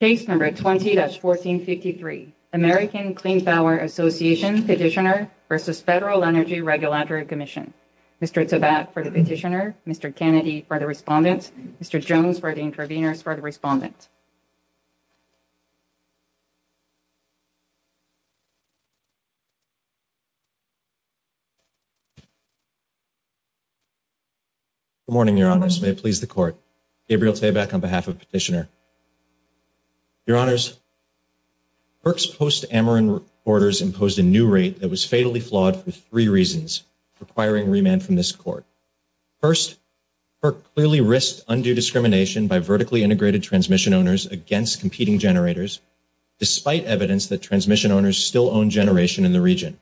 20-1463 American Clean Power Association Petitioner v. FEDERAL ENERGY REGULATORY COMMISSION Mr. Tzabak for the petitioner, Mr. Kennedy for the respondent, Mr. Jones for the intervener, for the respondent. Good morning, Your Honors. May it please the Court. Gabriel Tzabak on behalf of the petitioner. Your Honors, FERC's post-Ameren orders impose a new rate that was fatally flawed for three reasons requiring remand from this Court. First, FERC clearly risks undue discrimination by vertically integrated transmission owners against competing generators, despite evidence that transmission owners still own generation in the region.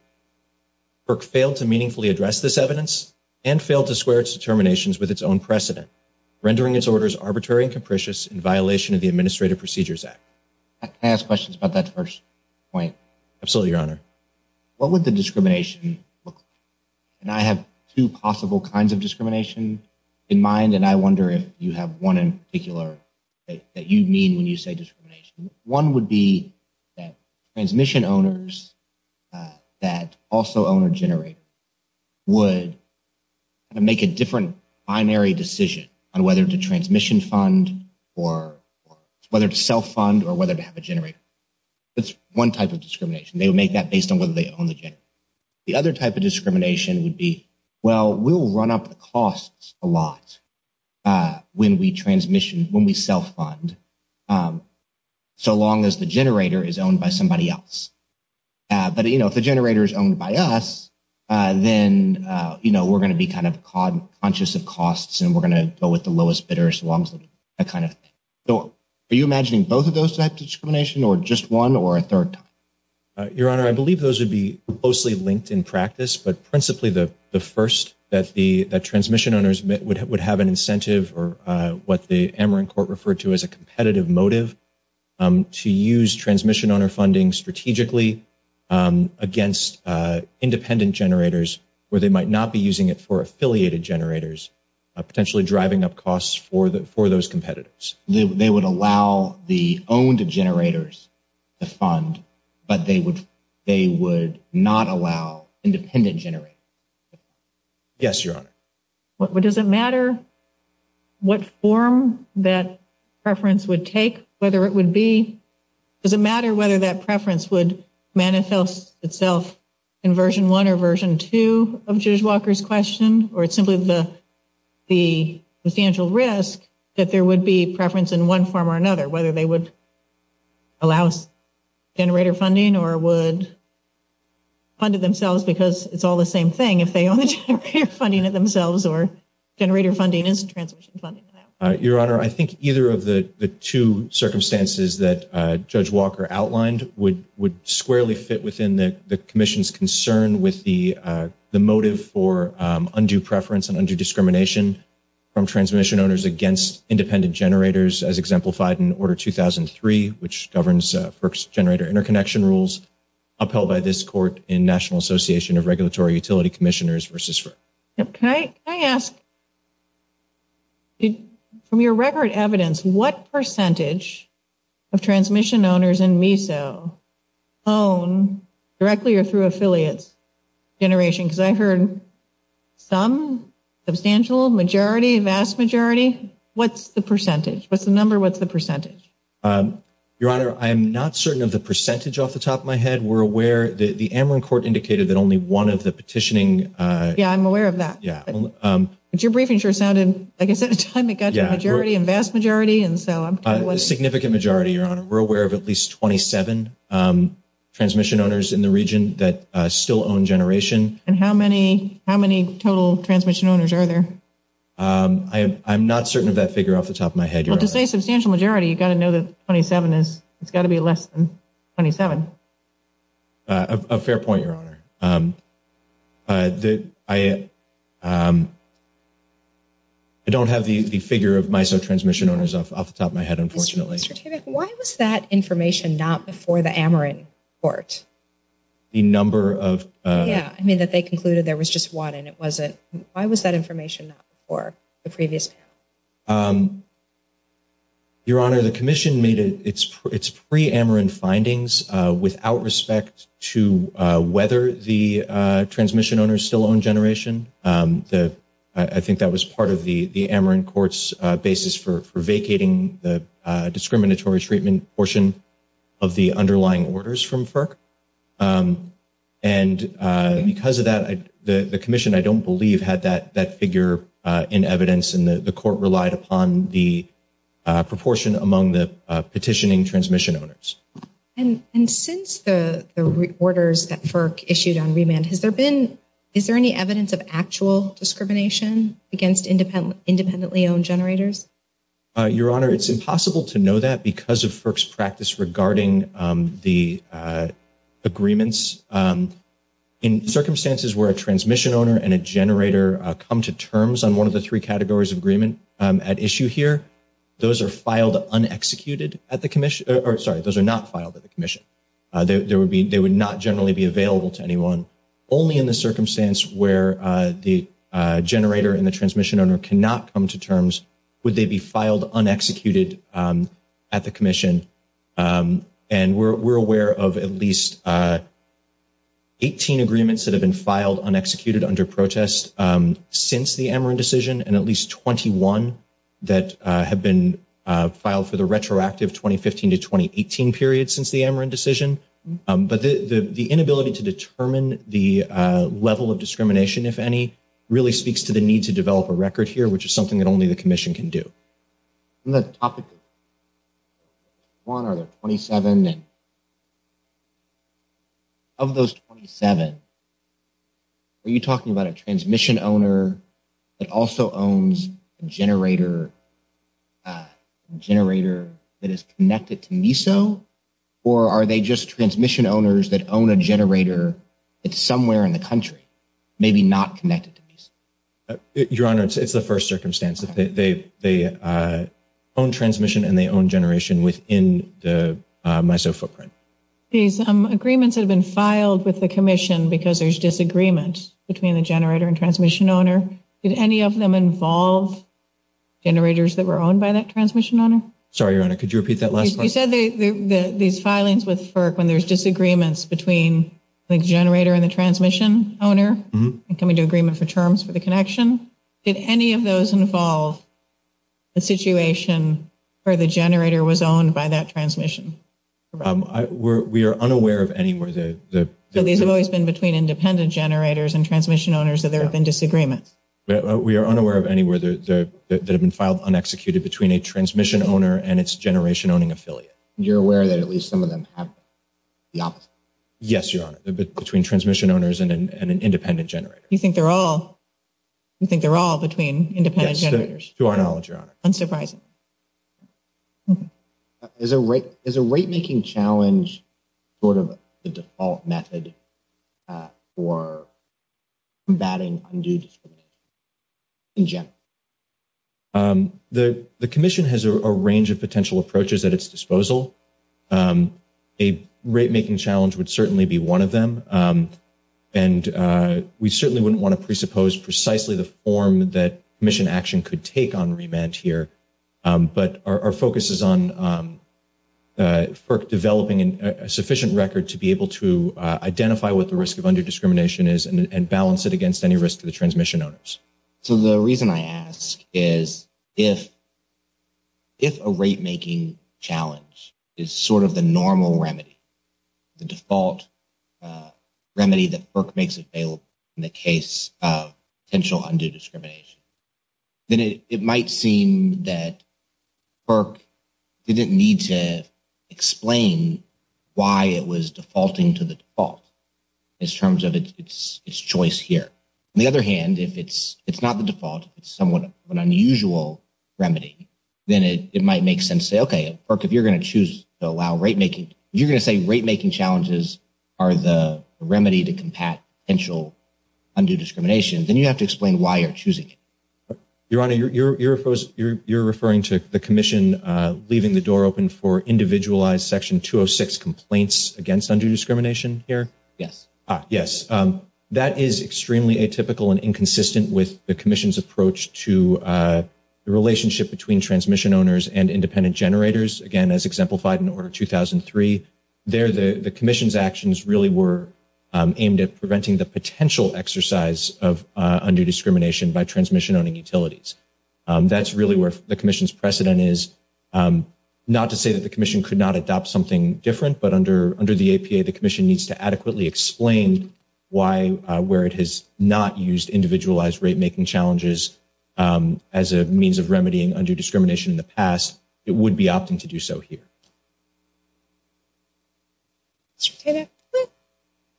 FERC failed to meaningfully address this evidence and failed to square its determinations with its own precedent, rendering its orders arbitrary and capricious in violation of the Administrative Procedures Act. Can I ask questions about that first point? Absolutely, Your Honor. What would the discrimination look like? And I have two possible kinds of discrimination in mind, and I wonder if you have one in particular that you mean when you say discrimination. One would be that transmission owners that also own a generator would make a different binary decision on whether to transmission fund or whether to self-fund or whether to have a generator. That's one type of discrimination. They would make that based on whether they own a generator. The other type of discrimination would be, well, we'll run up costs a lot when we transmission, when we self-fund, so long as the generator is owned by somebody else. But, you know, if the generator is owned by us, then, you know, we're going to be kind of conscious of costs and we're going to go with the lowest bidder as long as we can. So are you imagining both of those types of discrimination or just one or a third type? Your Honor, I believe those would be closely linked in practice, but principally the first that the transmission owners would have an incentive or what the Ameren Court referred to as a competitive motive to use transmission owner funding strategically against independent generators where they might not be using it for affiliated generators, potentially driving up costs for those competitors. They would allow the owned generators to fund, but they would not allow independent generators. Yes, Your Honor. Does it matter what form that preference would take, whether it would be – does it matter whether that preference would manifest itself in Version 1 or Version 2 of Judge Walker's question or simply the substantial risk that there would be preference in one form or another, whether they would allow generator funding or would fund it themselves because it's all the same thing if they own the generator funding themselves or generator funding is transmission funding. Your Honor, I think either of the two circumstances that Judge Walker outlined would squarely fit within the Commission's concern with the motive for undue preference and undue discrimination from transmission owners against independent generators, as exemplified in Order 2003, which governs FERC's generator interconnection rules, upheld by this Court in National Association of Regulatory Utility Commissioners v. FERC. Can I ask, from your record evidence, what percentage of transmission owners in MESO own directly or through affiliate generation? Because I heard some, substantial, majority, vast majority. What's the percentage? What's the number? What's the percentage? Your Honor, I'm not certain of the percentage off the top of my head. We're aware – the Amelin Court indicated that only one of the petitioning… Yeah, I'm aware of that. Yeah. But your briefing sure sounded, like I said, it sounded like a majority and vast majority. Significant majority, Your Honor. We're aware of at least 27 transmission owners in the region that still own generation. And how many total transmission owners are there? I'm not certain of that figure off the top of my head, Your Honor. Well, to say substantial majority, you've got to know that 27 is – it's got to be less than 27. A fair point, Your Honor. I don't have the figure of MESO transmission owners off the top of my head, unfortunately. Why was that information not before the Amelin Court? The number of… Yeah, I mean that they concluded there was just one and it wasn't – why was that information not before the previous? Your Honor, the commission made its pre-Amelin findings without respect to whether the transmission owners still own generation. I think that was part of the Amelin Court's basis for vacating the discriminatory treatment portion of the underlying orders from FERC. And because of that, the commission, I don't believe, had that figure in evidence. And the court relied upon the proportion among the petitioning transmission owners. And since the orders that FERC issued on remand has opened, is there any evidence of actual discrimination against independently owned generators? Your Honor, it's impossible to know that because of FERC's practice regarding the agreements. In circumstances where a transmission owner and a generator come to terms on one of the three categories of agreement at issue here, those are filed unexecuted at the commission – or sorry, those are not filed at the commission. They would not generally be available to anyone. Only in the circumstance where the generator and the transmission owner cannot come to terms would they be filed unexecuted at the commission. And we're aware of at least 18 agreements that have been filed unexecuted under protest since the Amelin decision. And at least 21 that have been filed for the retroactive 2015 to 2018 period since the Amelin decision. But the inability to determine the level of discrimination, if any, really speaks to the need to develop a record here, which is something that only the commission can do. On the topic of 21 or 27, of those 27, are you talking about a transmission owner that also owns a generator that is connected to MISO? Or are they just transmission owners that own a generator that's somewhere in the country, maybe not connected to MISO? Your Honor, it's the first circumstance. They own transmission and they own generation within the MISO footprint. These agreements have been filed with the commission because there's disagreement between the generator and transmission owner. Did any of them involve generators that were owned by that transmission owner? Sorry, Your Honor, could you repeat that last part? You said these filings with FERC when there's disagreements between the generator and the transmission owner, coming to agreement for terms for the connection. Did any of those involve a situation where the generator was owned by that transmission? We are unaware of any where the... So these have always been between independent generators and transmission owners, so there have been disagreements. We are unaware of any where they've been filed unexecuted between a transmission owner and its generation-owning affiliate. You're aware that at least some of them have the opposite? Yes, Your Honor, between transmission owners and an independent generator. You think they're all between independent generators? Yes, Your Honor. Unsurprising. Is a rate-making challenge sort of the default method for combating undue discrimination in general? The commission has a range of potential approaches at its disposal. A rate-making challenge would certainly be one of them. And we certainly wouldn't want to presuppose precisely the form that commission action could take on remand here. But our focus is on FERC developing a sufficient record to be able to identify what the risk of undue discrimination is and balance it against any risk to the transmission owners. So the reason I ask is if a rate-making challenge is sort of the normal remedy, the default remedy that FERC makes available in the case of potential undue discrimination, then it might seem that FERC didn't need to explain why it was defaulting to the default in terms of its choice here. On the other hand, if it's not the default, it's somewhat of an unusual remedy, then it might make sense to say, okay, FERC, if you're going to choose to allow rate-making, you're going to say rate-making challenges are the remedy to combat potential undue discrimination, then you have to explain why you're choosing it. Your Honor, you're referring to the commission leaving the door open for individualized Section 206 complaints against undue discrimination here? Yes. That is extremely atypical and inconsistent with the commission's approach to the relationship between transmission owners and independent generators, again, as exemplified in Order 2003. There, the commission's actions really were aimed at preventing the potential exercise of undue discrimination by transmission-owning utilities. That's really where the commission's precedent is, not to say that the commission could not adopt something different, but under the APA, the commission needs to adequately explain why, where it has not used individualized rate-making challenges as a means of remedying undue discrimination in the past, it would be opting to do so here.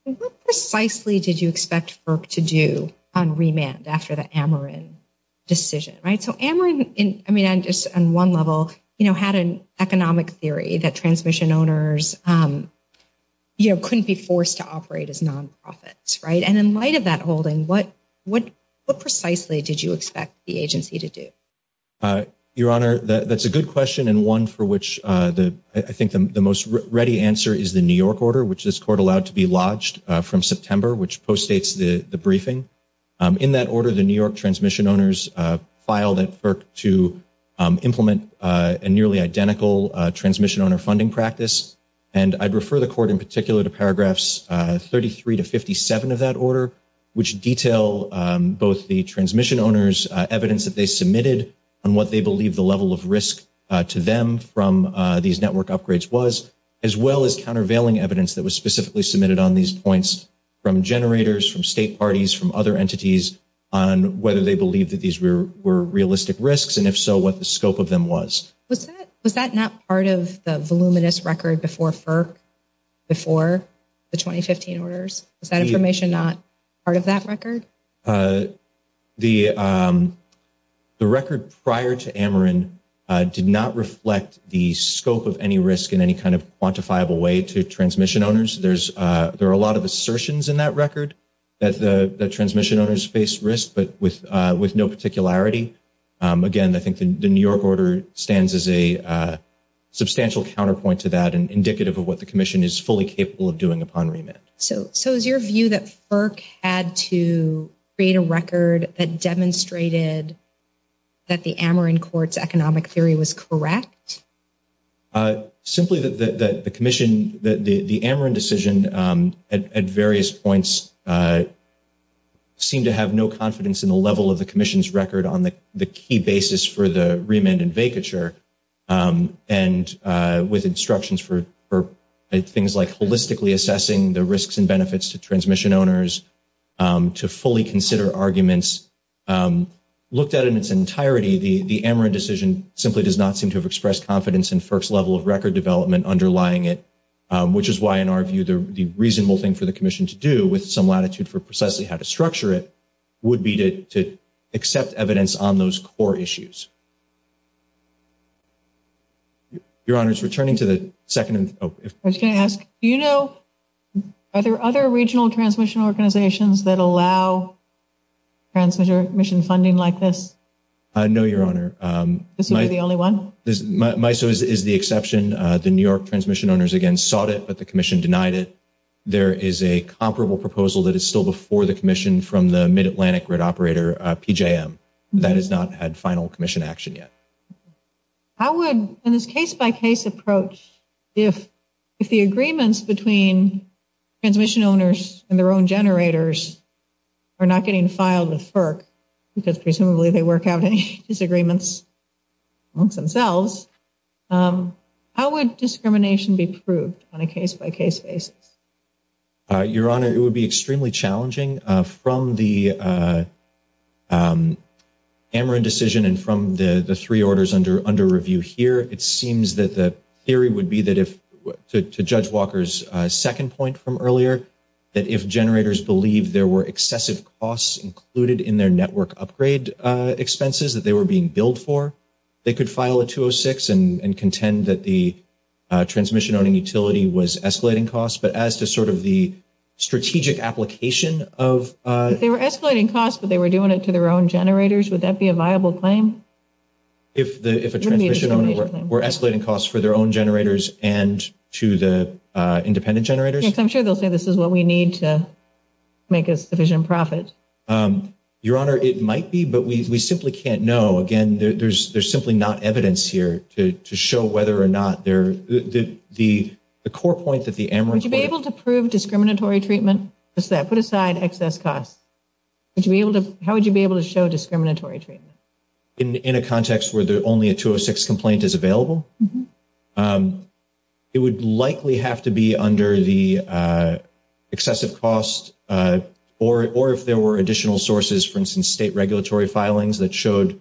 What precisely did you expect FERC to do on remand after the Ameren decision? So Ameren, on one level, had an economic theory that transmission owners couldn't be forced to operate as nonprofits. And in light of that, Holden, what precisely did you expect the agency to do? Your Honor, that's a good question and one for which I think the most ready answer is the New York Order, which this Court allowed to be lodged from September, which postdates the briefing. In that order, the New York transmission owners filed at FERC to implement a nearly identical transmission-owner funding practice. And I'd refer the Court in particular to paragraphs 33 to 57 of that order, which detail both the transmission owners' evidence that they submitted on what they believe the level of risk to them from these network upgrades was, as well as countervailing evidence that was specifically submitted on these points from generators, from state parties, from other entities on whether they believe that these were realistic risks, and if so, what the scope of them was. Was that not part of the voluminous record before FERC, before the 2015 orders? Is that information not part of that record? The record prior to Ameren did not reflect the scope of any risk in any kind of quantifiable way to transmission owners. There are a lot of assertions in that record that transmission owners faced risk, but with no particularity. Again, I think the New York Order stands as a substantial counterpoint to that and indicative of what the Commission is fully capable of doing upon remit. So is your view that FERC had to create a record that demonstrated that the Ameren Court's economic theory was correct? Simply, the Ameren decision at various points seemed to have no confidence in the level of the Commission's record on the key basis for the remand and vacature, and with instructions for things like holistically assessing the risks and benefits to transmission owners to fully consider arguments. Looked at in its entirety, the Ameren decision simply does not seem to have expressed confidence in FERC's level of record development underlying it, which is why, in our view, the reasonable thing for the Commission to do, with some latitude for precisely how to structure it, would be to accept evidence on those core issues. Your Honor, returning to the second... I was going to ask, do you know, are there other regional transmission organizations that allow transmission funding like this? No, Your Honor. Is this the only one? MISO is the exception. The New York transmission owners, again, sought it, but the Commission denied it. There is a comparable proposal that is still before the Commission from the Mid-Atlantic grid operator, PJM. That has not had final Commission action yet. How would, in this case-by-case approach, if the agreements between transmission owners and their own generators are not getting filed with FERC, because presumably they work out any disagreements amongst themselves, how would discrimination be proved on a case-by-case basis? Your Honor, it would be extremely challenging. From the Ameren decision and from the three orders under review here, it seems that the theory would be that, to Judge Walker's second point from earlier, that if generators believe there were excessive costs included in their network upgrade expenses that they were being billed for, they could file a 206 and contend that the transmission-owning utility was escalating costs. But as to sort of the strategic application of- If they were escalating costs but they were doing it to their own generators, would that be a viable claim? If a transmission owner were escalating costs for their own generators and to the independent generators? Yes, I'm sure they'll say this is what we need to make a sufficient profit. Your Honor, it might be, but we simply can't know. Again, there's simply not evidence here to show whether or not the core point that the Ameren- Would you be able to prove discriminatory treatment? Put aside excess costs. How would you be able to show discriminatory treatment? In a context where only a 206 complaint is available? It would likely have to be under the excessive costs or if there were additional sources, for instance, state regulatory filings that showed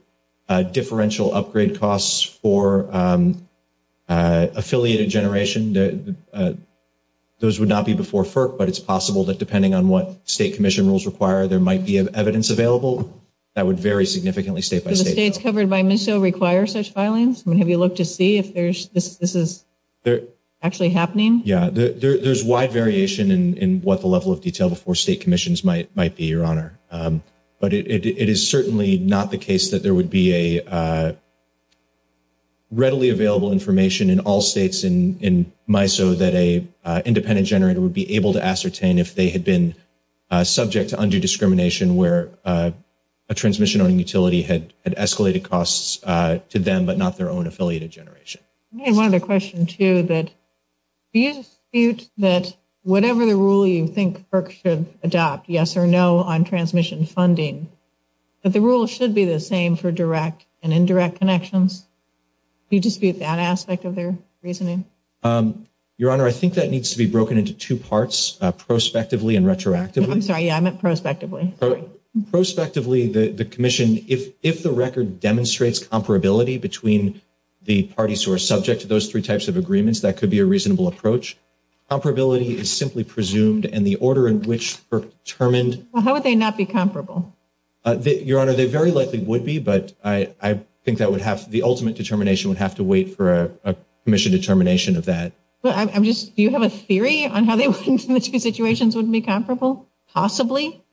differential upgrade costs for affiliated generation. Those would not be before FERC, but it's possible that depending on what state commission rules require, there might be evidence available that would very significantly state-by-state. Do states covered by MISO require such filings? Have you looked to see if this is actually happening? Yeah, there's wide variation in what the level of detail before state commissions might be, Your Honor. But it is certainly not the case that there would be a readily available information in all states in MISO that an independent generator would be able to ascertain if they had been subject to undue discrimination where a transmission or utility had escalated costs to them but not their own affiliated generation. I had one other question, too. Do you dispute that whatever the rule you think FERC should adopt, yes or no, on transmission funding, that the rule should be the same for direct and indirect connections? Do you dispute that aspect of their reasoning? Your Honor, I think that needs to be broken into two parts, prospectively and retroactively. I'm sorry, yeah, I meant prospectively. Prospectively, the commission, if the record demonstrates comparability between the parties who are subject to those three types of agreements, that could be a reasonable approach. Comparability is simply presumed, and the order in which they're determined… Well, how would they not be comparable? Your Honor, they very likely would be, but I think the ultimate determination would have to wait for a commission determination of that. Do you have a theory on how the two situations would be comparable, possibly?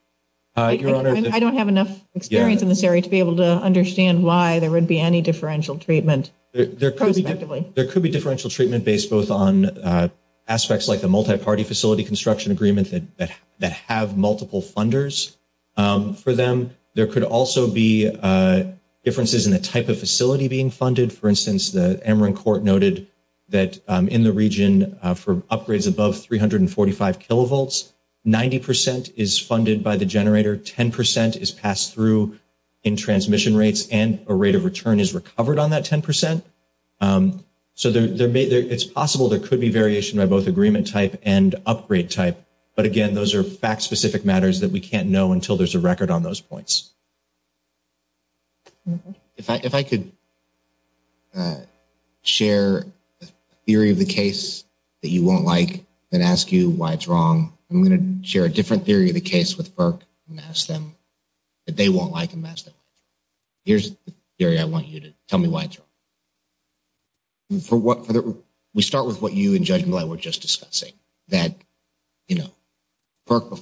I don't have enough experience in this area to be able to understand why there would be any differential treatment. There could be differential treatment based both on aspects like the multi-party facility construction agreement that have multiple funders for them. There could also be differences in the type of facility being funded. For instance, the Emory Court noted that in the region for upgrades above 345 kilovolts, 90 percent is funded by the generator, 10 percent is passed through in transmission rates, and a rate of return is recovered on that 10 percent. So it's possible there could be variation by both agreement type and upgrade type, but again, those are fact-specific matters that we can't know until there's a record on those points. If I could share a theory of the case that you won't like and ask you why it's wrong, I'm going to share a different theory of the case with Perk and ask him that they won't like and ask him. Here's the theory I want you to tell me why it's wrong. We start with what you and Judge Muller were just discussing, that, you know, the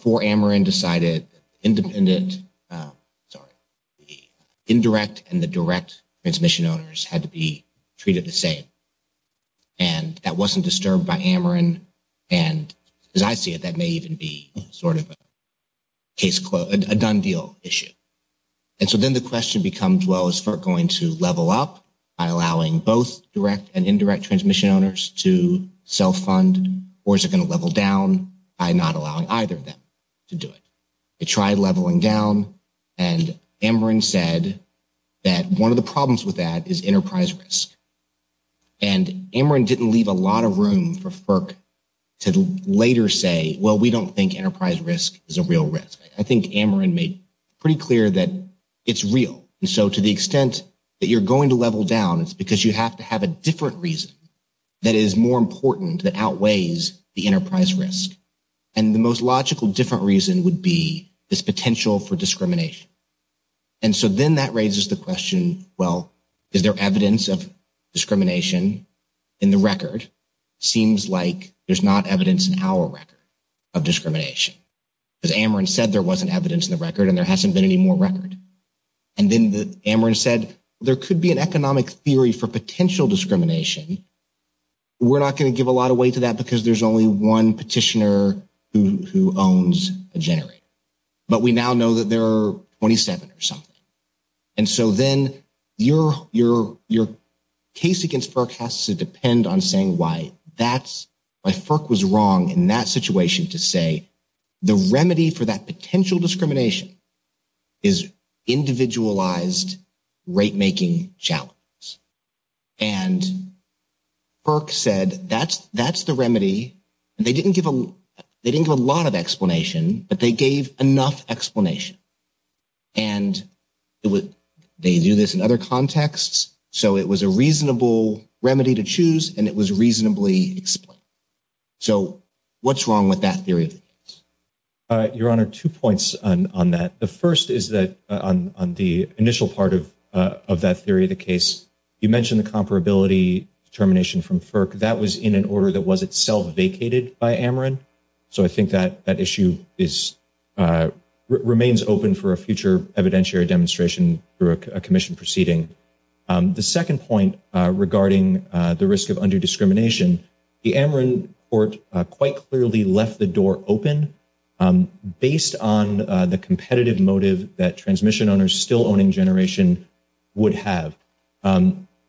indirect and the direct transmission owners had to be treated the same, and that wasn't disturbed by Ameren. And as I see it, that may even be sort of a case closed, a done deal issue. And so then the question becomes, well, is Perk going to level up by allowing both direct and indirect transmission owners to self-fund, or is it going to level down by not allowing either of them to do it? They tried leveling down, and Ameren said that one of the problems with that is enterprise risk. And Ameren didn't leave a lot of room for Perk to later say, well, we don't think enterprise risk is a real risk. I think Ameren made pretty clear that it's real. And so to the extent that you're going to level down, it's because you have to have a different reason that is more important, that outweighs the enterprise risk. And the most logical different reason would be this potential for discrimination. And so then that raises the question, well, is there evidence of discrimination in the record? Seems like there's not evidence in our record of discrimination. Because Ameren said there wasn't evidence in the record, and there hasn't been any more record. And then Ameren said, there could be an economic theory for potential discrimination. We're not going to give a lot of weight to that because there's only one petitioner who owns a generator. But we now know that there are 27 or something. And so then your case against Perk has to depend on saying why. Perk was wrong in that situation to say the remedy for that potential discrimination is individualized rate-making challenges. And Perk said that's the remedy. They didn't give a lot of explanation, but they gave enough explanation. And they do this in other contexts. So it was a reasonable remedy to choose, and it was reasonably explained. So what's wrong with that theory? Your Honor, two points on that. The first is that on the initial part of that theory of the case, you mentioned the comparability determination from Perk. That was in an order that was itself vacated by Ameren. So I think that issue remains open for a future evidentiary demonstration through a commission proceeding. The second point regarding the risk of underdiscrimination, the Ameren court quite clearly left the door open based on the competitive motive that transmission owners still owning generation would have.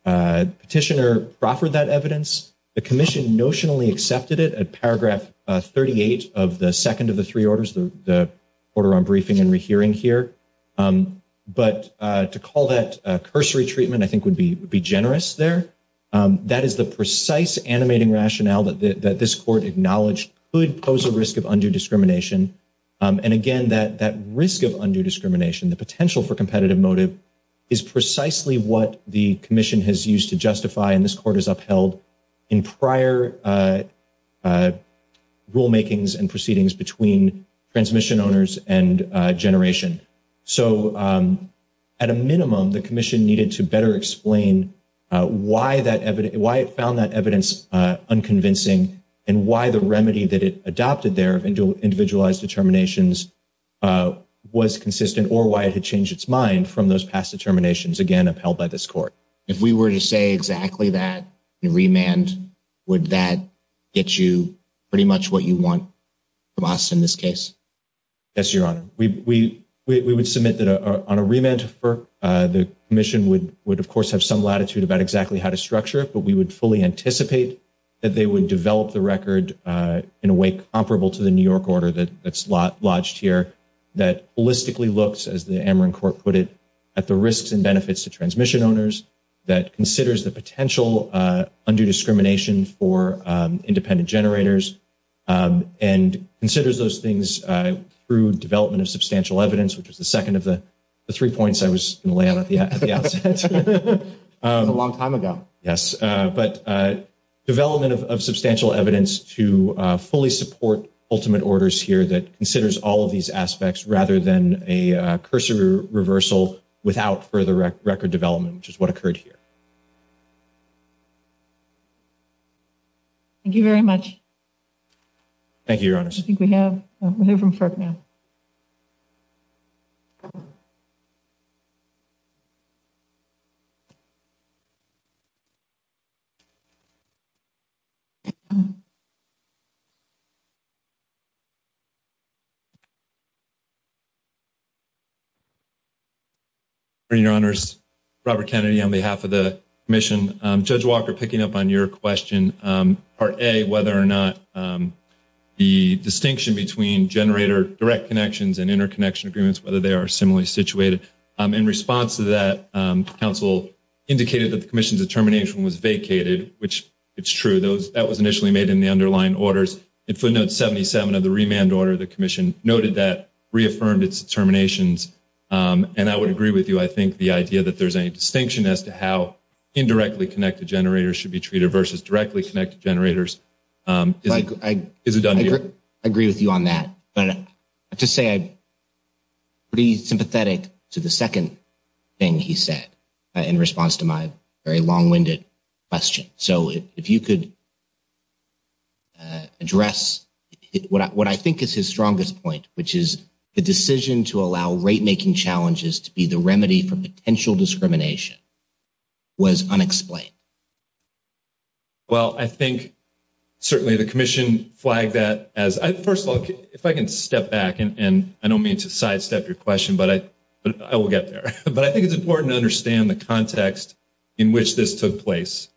Petitioner proffered that evidence. The commission notionally accepted it at paragraph 38 of the second of the three orders, the order on briefing and rehearing here. But to call that cursory treatment I think would be generous there. That is the precise animating rationale that this court acknowledged could pose a risk of underdiscrimination. And again, that risk of underdiscrimination, the potential for competitive motive, is precisely what the commission has used to justify, and this court has upheld, in prior rulemakings and proceedings between transmission owners and generation. So at a minimum, the commission needed to better explain why it found that evidence unconvincing and why the remedy that it adopted there, individualized determinations, was consistent or why it had changed its mind from those past determinations, again, upheld by this court. If we were to say exactly that in remand, would that get you pretty much what you want from us in this case? Yes, Your Honor. We would submit that on a remand, the commission would, of course, have some latitude about exactly how to structure it, but we would fully anticipate that they would develop the record in a way comparable to the New York order that's lodged here that holistically looks, as the Ameren court put it, at the risks and benefits to transmission owners, that considers the potential underdiscrimination for independent generators, and considers those things through development of substantial evidence, which is the second of the three points I was going to lay out at the outset. A long time ago. Yes, but development of substantial evidence to fully support ultimate orders here that considers all of these aspects rather than a cursor reversal without further record development, which is what occurred here. Thank you very much. Thank you, Your Honor. I think we have, we'll hear from FERC now. Your Honor, Robert Kennedy on behalf of the commission. Judge Walker, picking up on your question, part A, whether or not the distinction between generator direct connections and interconnection agreements, whether they are similarly situated. In response to that, counsel indicated that the commission's determination was vacated, which it's true. That was initially made in the underlying orders. In footnote 77 of the remand order, the commission noted that reaffirmed its determinations. And I would agree with you. I think the idea that there's a distinction as to how indirectly connected generators should be treated versus directly connected generators is a dumb deal. I agree with you on that. To say I'm pretty sympathetic to the second thing he said in response to my very long-winded question. So if you could address what I think is his strongest point, which is the decision to allow rate-making challenges to be the remedy for potential discrimination was unexplained. Well, I think certainly the commission flagged that. First of all, if I can step back, and I don't mean to sidestep your question, but I will get there. But I think it's important to understand the context in which this took place.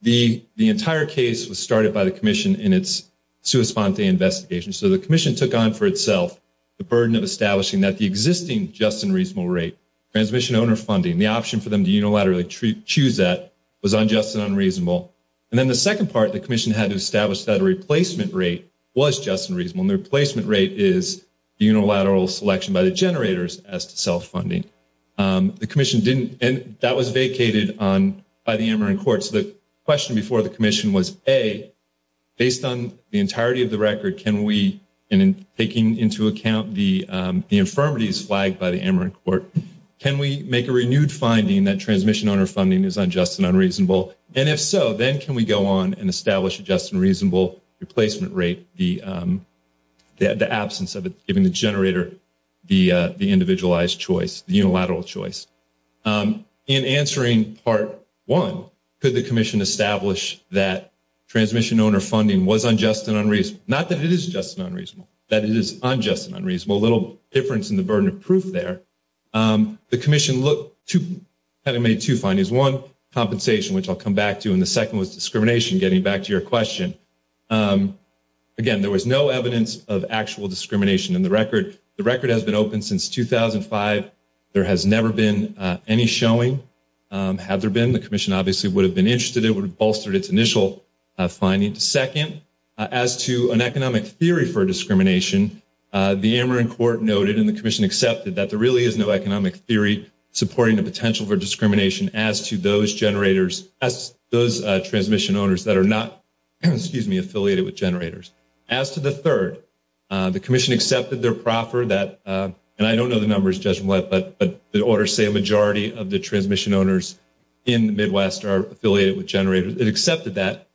The entire case was started by the commission in its sua sponte investigation. So the commission took on for itself the burden of establishing that the existing just and reasonable rate, transmission owner funding, the option for them to unilaterally choose that was unjust and unreasonable. And then the second part, the commission had to establish that a replacement rate was just and reasonable. And the replacement rate is the unilateral selection by the generators as to sell funding. The commission didn't, and that was vacated by the Ameren court. So the question before the commission was, A, based on the entirety of the record, can we, and taking into account the infirmities flagged by the Ameren court, can we make a renewed finding that transmission owner funding is unjust and unreasonable? And if so, then can we go on and establish a just and reasonable replacement rate, the absence of giving the generator the individualized choice, the unilateral choice? In answering part one, could the commission establish that transmission owner funding was unjust and unreasonable? Not that it is just and unreasonable, that it is unjust and unreasonable. A little difference in the burden of proof there. The commission had to make two findings. One, compensation, which I'll come back to, and the second was discrimination, getting back to your question. Again, there was no evidence of actual discrimination in the record. The record has been open since 2005. There has never been any showing. Had there been, the commission obviously would have been interested. It would have bolstered its initial findings. Second, as to an economic theory for discrimination, the Ameren court noted and the commission accepted that there really is no economic theory supporting the potential for discrimination as to those generators, as those transmission owners that are not affiliated with generators. As to the third, the commission accepted their proffer that, and I don't know the numbers, but the orders say a majority of the transmission owners in the Midwest are affiliated with generators. It accepted that,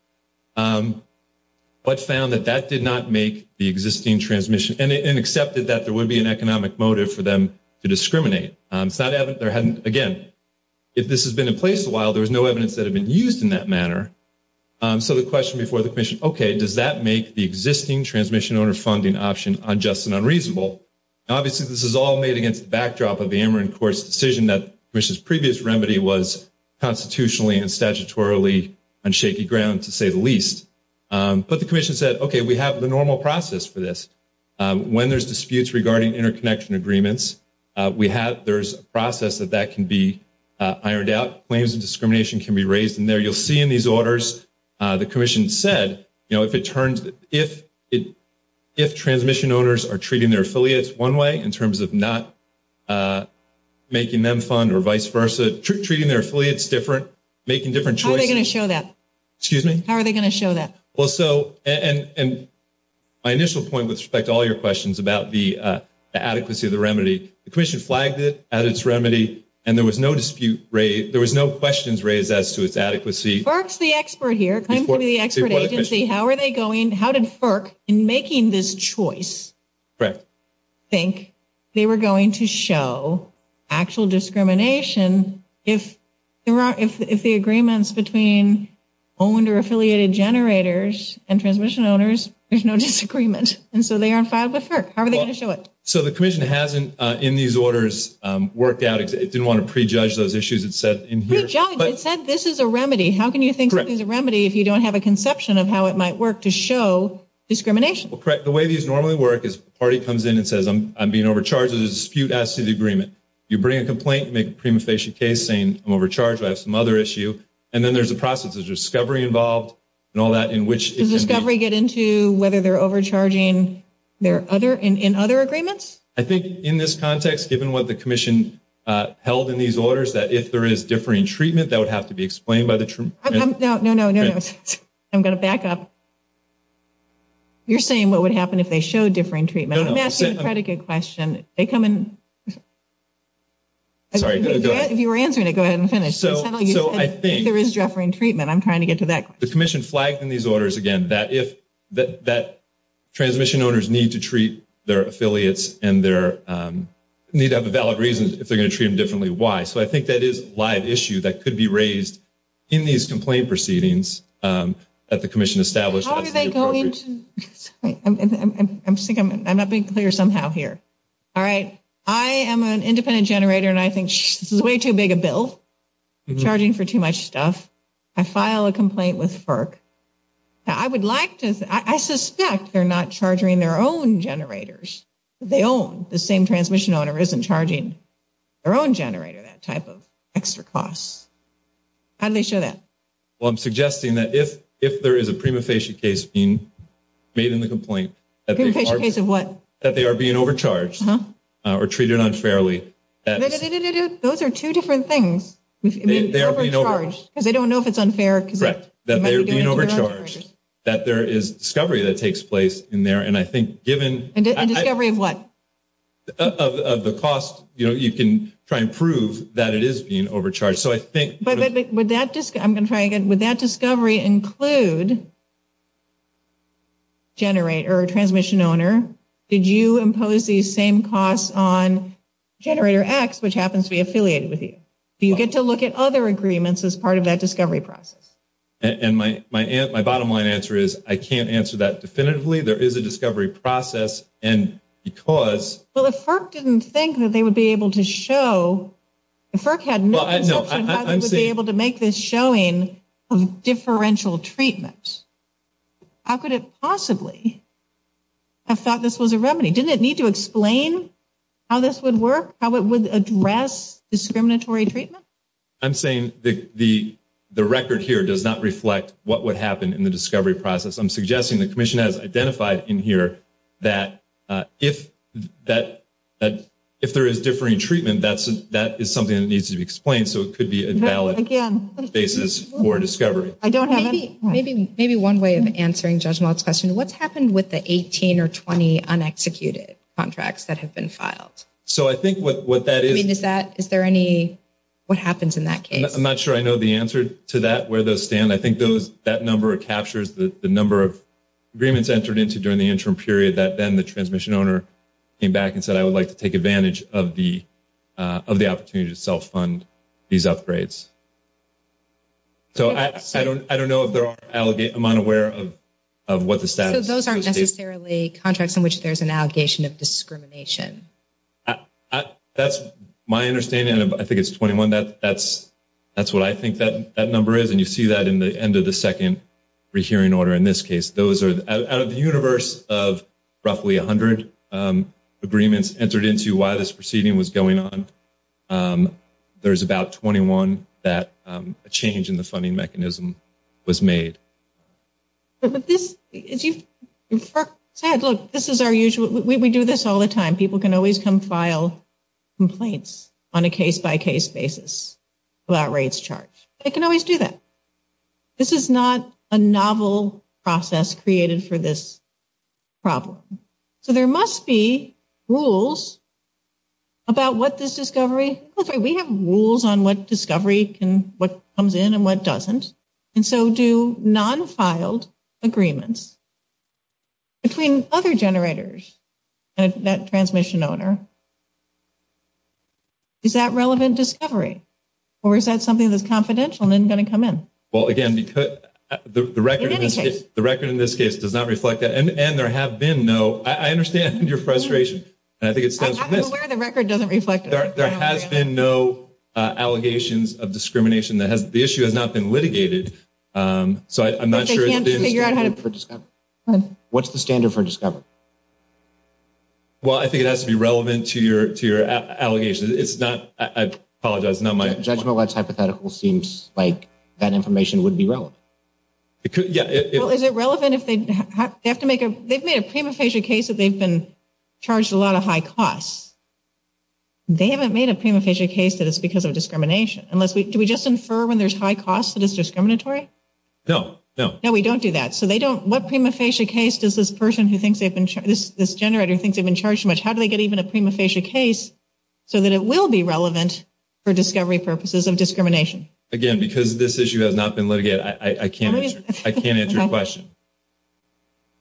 but found that that did not make the existing transmission and accepted that there would be an economic motive for them to discriminate. Again, if this has been in place a while, there was no evidence that it had been used in that manner. So the question before the commission, okay, does that make the existing transmission owner funding option unjust and unreasonable? Obviously, this is all made against the backdrop of the Ameren court's decision that the commission's previous remedy was constitutionally and statutorily on shaky ground, to say the least. But the commission said, okay, we have the normal process for this. When there's disputes regarding interconnection agreements, there's a process that that can be ironed out. Claims of discrimination can be raised in there. You'll see in these orders, the commission said, if transmission owners are treating their affiliates one way in terms of not making them fund or vice versa, treating their affiliates different, making different choices. How are they going to show that? Excuse me? How are they going to show that? Well, so, and my initial point with respect to all your questions about the adequacy of the remedy, the commission flagged it as its remedy, and there was no dispute raised. There was no questions raised as to its adequacy. FERC's the expert here. How are they going? How did FERC, in making this choice, think they were going to show actual discrimination if the agreements between owned or affiliated generators and transmission owners, there's no disagreement. And so they are in favor of FERC. How are they going to show it? So the commission hasn't, in these orders, worked out. It didn't want to prejudge those issues. It said this is a remedy. How can you think this is a remedy if you don't have a conception of how it might work to show discrimination? Well, correct. The way these normally work is a party comes in and says, I'm being overcharged. There's a dispute as to the agreement. You bring a complaint, make a premonition case saying, I'm overcharged. I have some other issue. And then there's a process of discovery involved and all that in which it can be. Does discovery get into whether they're overcharging in other agreements? I think in this context, given what the commission held in these orders, that if there is differing treatment, that would have to be explained by the… No, no, no, no, no. I'm going to back up. You're saying what would happen if they showed differing treatment. I'm asking a pretty good question. They come in… Sorry, go ahead. If you were answering it, go ahead and finish. So I think… There is differing treatment. I'm trying to get to that. The commission flagged in these orders, again, that transmission owners need to treat their affiliates and their…need to have valid reasons if they're going to treat them differently. Why? So I think that is a live issue that could be raised in these complaint proceedings that the commission established. How are they going to… I'm not being clear somehow here. All right. I am an independent generator, and I think this is way too big a bill charging for too much stuff. I file a complaint with FERC. I would like to… I suspect they're not charging their own generators. They own… The same transmission owner isn't charging their own generator that type of extra cost. How do they show that? Well, I'm suggesting that if there is a prima facie case being made in the complaint… Prima facie case of what? That they are being overcharged or treated unfairly… No, no, no, no, no, no. Those are two different things. They are being overcharged. Because they don't know if it's unfair. Right. That they are being overcharged. That there is discovery that takes place in there, and I think given… And discovery of what? Of the cost. You can try and prove that it is being overcharged. So I think… But would that… I'm going to try again. Would that discovery include generator or transmission owner? Did you impose these same costs on generator X, which happens to be affiliated with you? Do you get to look at other agreements as part of that discovery process? And my bottom line answer is I can't answer that definitively. There is a discovery process, and because… Well, if FERC didn't think that they would be able to show… If FERC had known that they would be able to make this showing of differential treatments, how could it possibly have thought this was a remedy? Didn't it need to explain how this would work, how it would address discriminatory treatment? I'm saying the record here does not reflect what would happen in the discovery process. I'm suggesting the commission has identified in here that if there is differing treatment, that is something that needs to be explained so it could be a valid basis for discovery. I don't have any… Maybe one way of answering Judge Maltz's question. What's happened with the 18 or 20 unexecuted contracts that have been filed? So I think what that is… Is there any… What happens in that case? I'm not sure I know the answer to that, where those stand. I think that number captures the number of agreements entered into during the interim period that then the transmission owner came back and said, I would like to take advantage of the opportunity to self-fund these upgrades. So I don't know if there are… I'm unaware of what the status is. So those aren't necessarily contracts in which there's an allegation of discrimination. That's my understanding. I think it's 21. That's what I think that number is, and you see that in the end of the second rehearing order in this case. Out of a universe of roughly 100 agreements entered into while this proceeding was going on, there's about 21 that a change in the funding mechanism was made. But this… As you said, look, this is our usual… We do this all the time. People can always come file complaints on a case-by-case basis without rates charged. They can always do that. This is not a novel process created for this problem. So there must be rules about what this discovery… We have rules on what discovery comes in and what doesn't, and so do non-filed agreements between other generators and that transmission owner. Is that relevant discovery, or is that something that's confidential and isn't going to come in? Well, again, the record in this case does not reflect that, and there have been no… I understand your frustration, and I think it's because… I'm aware the record doesn't reflect that. There have been no allegations of discrimination. The issue has not been litigated, so I'm not sure… What's the standard for discovery? Well, I think it has to be relevant to your allegations. It's not… I apologize. No, my… Judgment Labs hypothetical seems like that information would be relevant. Well, is it relevant if they have to make a… They've made a prima facie case that they've been charged a lot of high costs. They haven't made a prima facie case that it's because of discrimination. Unless we… Do we just infer when there's high cost that it's discriminatory? No, no. No, we don't do that. So they don't… What prima facie case does this person who thinks they've been… This generator thinks they've been charged too much, how do they get even a prima facie case so that it will be relevant for discovery purposes of discrimination? Again, because this issue has not been litigated, I can't answer your question.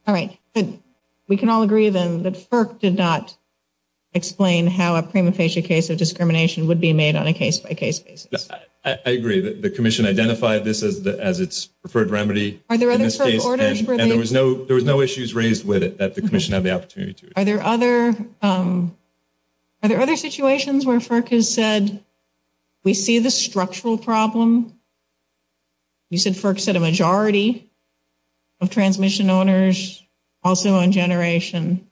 All right. Good. We can all agree then that FERC did not explain how a prima facie case of discrimination would be made on a case-by-case basis. I agree. The commission identified this as its preferred remedy. Are there other… And there was no issues raised with it that the commission had the opportunity to. Are there other… Are there other situations where FERC has said, we see the structural problem? You said FERC said a majority of transmission owners, also on generation,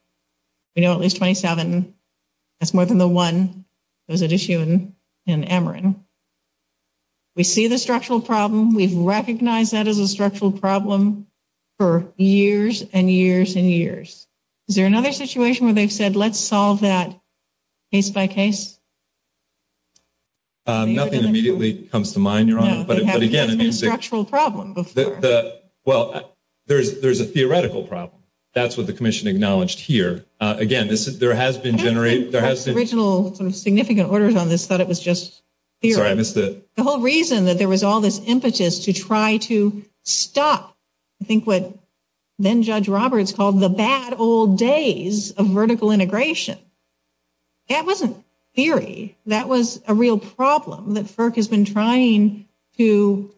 we know at least 27. That's more than the one that was at issue in Emrin. We see the structural problem. We've recognized that as a structural problem for years and years and years. Is there another situation where they've said, let's solve that case-by-case? Nothing immediately comes to mind, Your Honor. But again, it means that… No, it has been a structural problem before. Well, there's a theoretical problem. That's what the commission acknowledged here. Again, there has been… The original significant orders on this thought it was just theory. Sorry, I missed it. The whole reason that there was all this impetus to try to stop, I think what then Judge Roberts called the bad old days of vertical integration. That wasn't theory. That was a real problem that FERC has been trying to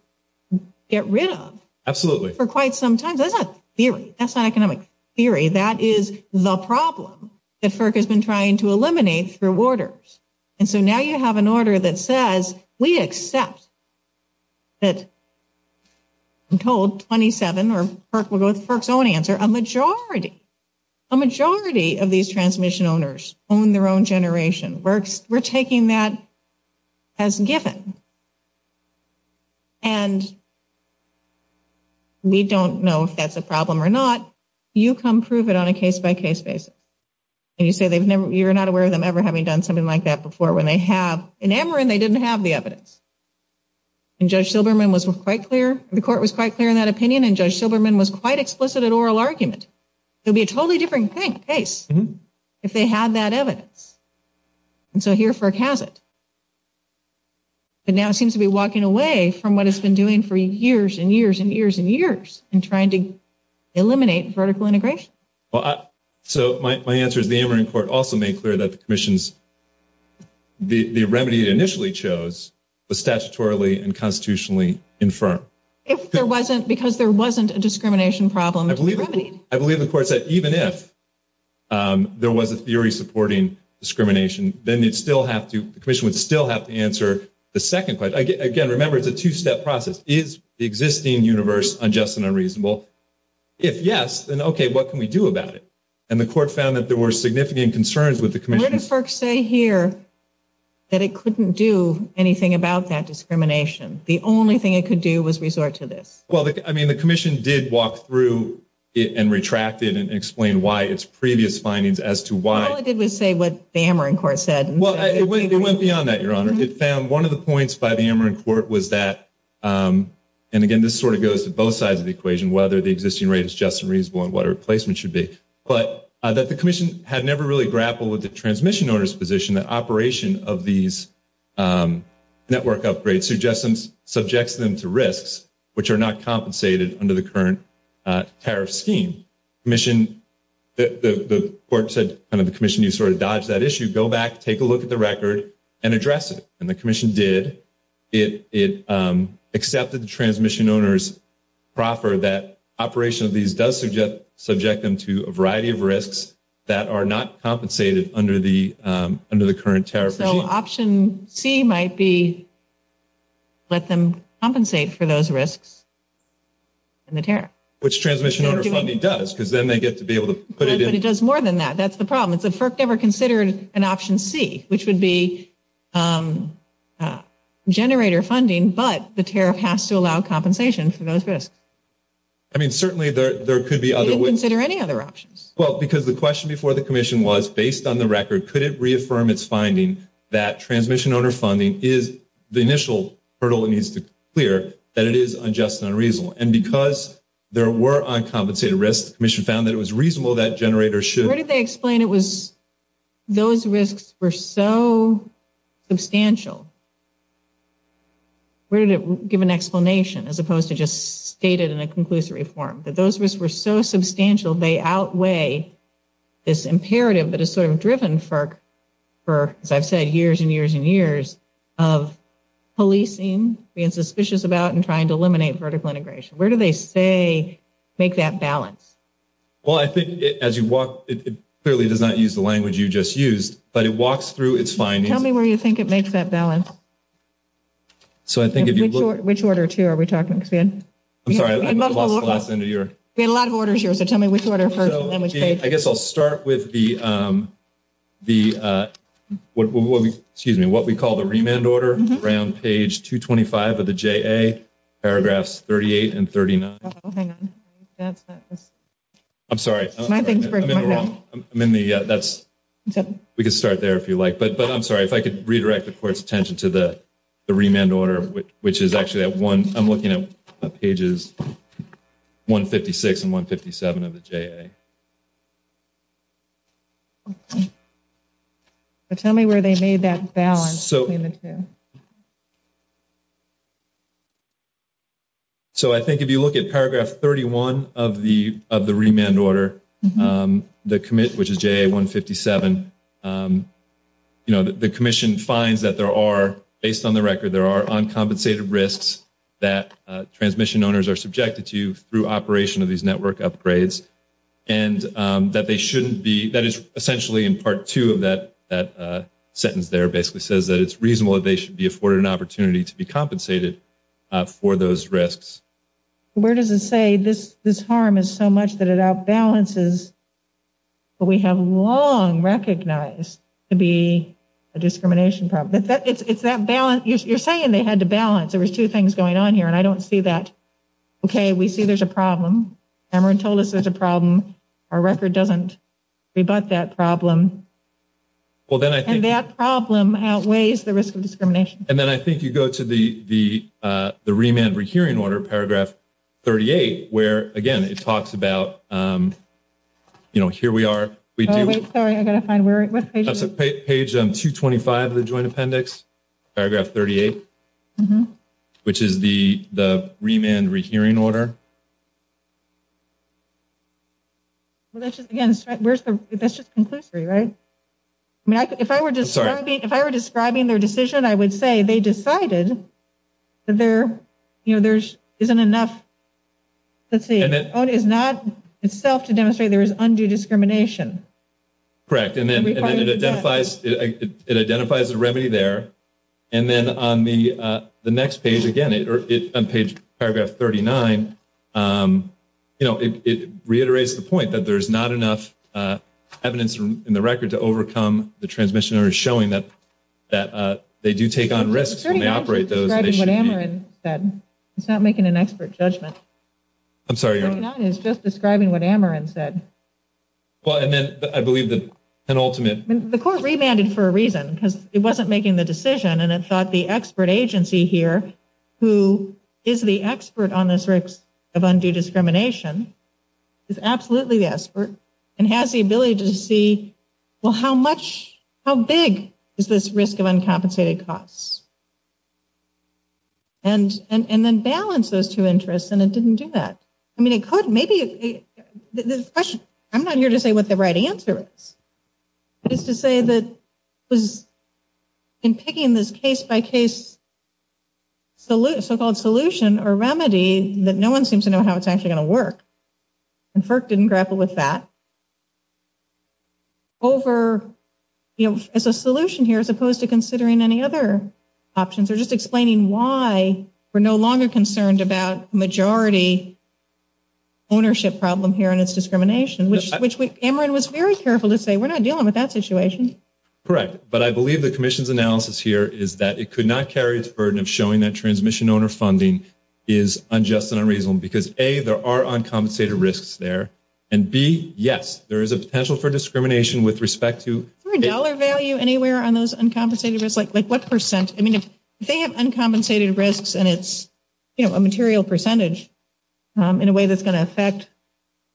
get rid of. Absolutely. For quite some time. That's not theory. That's not economic theory. That is the problem that FERC has been trying to eliminate through orders. And so now you have an order that says, we accept that, I'm told, 27, or FERC's own answer, a majority, a majority of these transmission owners own their own generation. We're taking that as given. And we don't know if that's a problem or not. You come prove it on a case-by-case basis. And you say you're not aware of them ever having done something like that before when they have. In Emory, they didn't have the evidence. And Judge Silberman was quite clear. The court was quite clear in that opinion, and Judge Silberman was quite explicit in oral argument. It would be a totally different case if they had that evidence. And so here FERC has it. But now it seems to be walking away from what it's been doing for years and years and years and years in trying to eliminate vertical integration. So my answer is the Emory Court also made clear that the remedies it initially chose were statutorily and constitutionally infirm. Because there wasn't a discrimination problem. I believe the court said even if there was a theory supporting discrimination, then the commission would still have to answer the second question. Again, remember, it's a two-step process. Is the existing universe unjust and unreasonable? If yes, then okay, what can we do about it? And the court found that there were significant concerns with the commission. What did FERC say here that it couldn't do anything about that discrimination? The only thing it could do was resort to this. Well, I mean, the commission did walk through and retract it and explain why its previous findings as to why. All it did was say what the Emory Court said. Well, it went beyond that, Your Honor. It found one of the points by the Emory Court was that, and again, this sort of goes to both sides of the equation, whether the existing rate is just and reasonable and what a replacement should be, but that the commission had never really grappled with the transmission owner's position, that operation of these network upgrades suggests them to risks, which are not compensated under the current tariff scheme. The court said to the commission, you sort of dodged that issue. Go back, take a look at the record, and address it. And the commission did. It accepted the transmission owner's proffer that operation of these does subject them to a variety of risks that are not compensated under the current tariff scheme. So option C might be let them compensate for those risks in the tariff. Which transmission owner funding does, because then they get to be able to put it in. It does more than that. That's the problem. It said FERC never considered an option C, which would be generator funding, but the tariff has to allow compensation for those risks. I mean, certainly there could be other ways. It didn't consider any other options. Well, because the question before the commission was, based on the record, could it reaffirm its finding that transmission owner funding is the initial hurdle it needs to clear, that it is unjust and unreasonable. And because there were uncompensated risks, the commission found that it was reasonable that generators should. Where did they explain it was those risks were so substantial? Where did it give an explanation as opposed to just state it in a conclusory form? That those risks were so substantial they outweigh this imperative that is sort of driven for, as I've said, years and years and years of policing, being suspicious about, and trying to eliminate vertical integration. Where do they say make that balance? Well, I think as you walk, it clearly does not use the language you just used, but it walks through its findings. Tell me where you think it makes that balance. So I think if you look. Which order, too, are we talking? I'm sorry. We have a lot of orders here, so tell me which order. I guess I'll start with what we call the remand order around page 225 of the JA, paragraphs 38 and 39. Hang on. I'm sorry. I'm in the wrong. We can start there if you like. But I'm sorry, if I could redirect, of course, attention to the remand order, which is actually at one. I'm looking at pages 156 and 157 of the JA. Tell me where they made that balance. So I think if you look at paragraph 31 of the remand order, which is JA 157, you know, the commission finds that there are, based on the record, there are uncompensated risks that transmission owners are subjected to through operation of these network upgrades, and that they shouldn't be. That is essentially in part two of that sentence there. It basically says that it's reasonable that they should be afforded an opportunity to be compensated for those risks. Where does it say this harm is so much that it outbalances what we have long recognized to be a discrimination problem? It's that balance. You're saying they had to balance. There were two things going on here, and I don't see that. Okay, we see there's a problem. Cameron told us there's a problem. Our record doesn't rebut that problem. And that problem outweighs the risk of discrimination. And then I think you go to the remand rehearing order, paragraph 38, where, again, it talks about, you know, here we are. Sorry, I've got to find where it was. That's page 225 of the joint appendix, paragraph 38, which is the remand rehearing order. Again, that's just conclusory, right? If I were describing their decision, I would say they decided that there isn't enough to see. It's not enough to demonstrate there is undue discrimination. Correct. And then it identifies the remedy there. And then on the next page, again, on page paragraph 39, you know, it reiterates the point that there's not enough evidence in the record to overcome the transmission order, showing that they do take on risks when they operate those. It's not making an expert judgment. I'm sorry. It's just describing what Ameren said. Well, and then I believe that ultimately the court remanded for a reason, because it wasn't making the decision and it thought the expert agency here, who is the expert on this risk of undue discrimination, is absolutely the expert and has the ability to see, well, how much, how big is this risk of uncompensated costs? And then balance those two interests, and it didn't do that. I mean, it could. Maybe this question, I'm not here to say what the right answer is. It's to say that in picking this case-by-case so-called solution or remedy, that no one seems to know how it's actually going to work. And FERC didn't grapple with that. Over, you know, as a solution here, as opposed to considering any other options, they're just explaining why we're no longer concerned about majority ownership problem here and its discrimination, which Ameren was very careful to say, we're not dealing with that situation. Correct. But I believe the commission's analysis here is that it could not carry its burden of showing that transmission owner funding is unjust and unreasonable, because, A, there are uncompensated risks there, and, B, yes, there is a potential for discrimination with respect to- Is there a dollar value anywhere on those uncompensated risks? Like what percent? I mean, if they have uncompensated risks and it's, you know, a material percentage in a way that's going to affect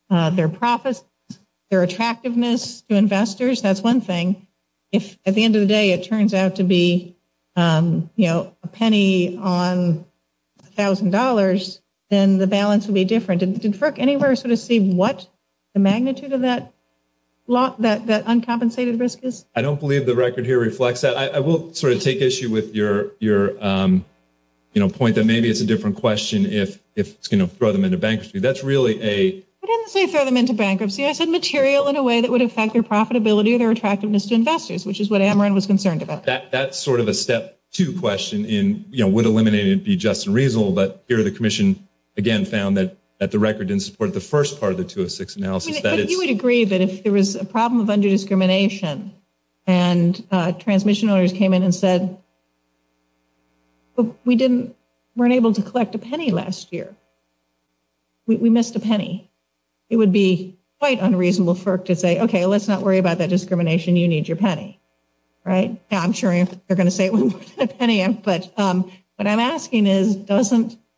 their profits, their attractiveness to investors, that's one thing. If at the end of the day it turns out to be, you know, a penny on $1,000, then the balance would be different. Did FERC anywhere sort of see what the magnitude of that uncompensated risk is? I don't believe the record here reflects that. I will sort of take issue with your, you know, point that maybe it's a different question if it's going to throw them into bankruptcy. That's really a- I didn't say throw them into bankruptcy. I said material in a way that would affect their profitability and their attractiveness to investors, which is what Ameren was concerned about. That's sort of a step two question in, you know, would eliminating it be just and reasonable, but here the commission, again, found that the record didn't support the first part of the 206 analysis. You would agree that if there was a problem of under-discrimination and transmission owners came in and said, we weren't able to collect a penny last year. We missed a penny. It would be quite unreasonable for FERC to say, okay, let's not worry about that discrimination. You need your penny, right? I'm sure they're going to say we missed a penny, but what I'm asking is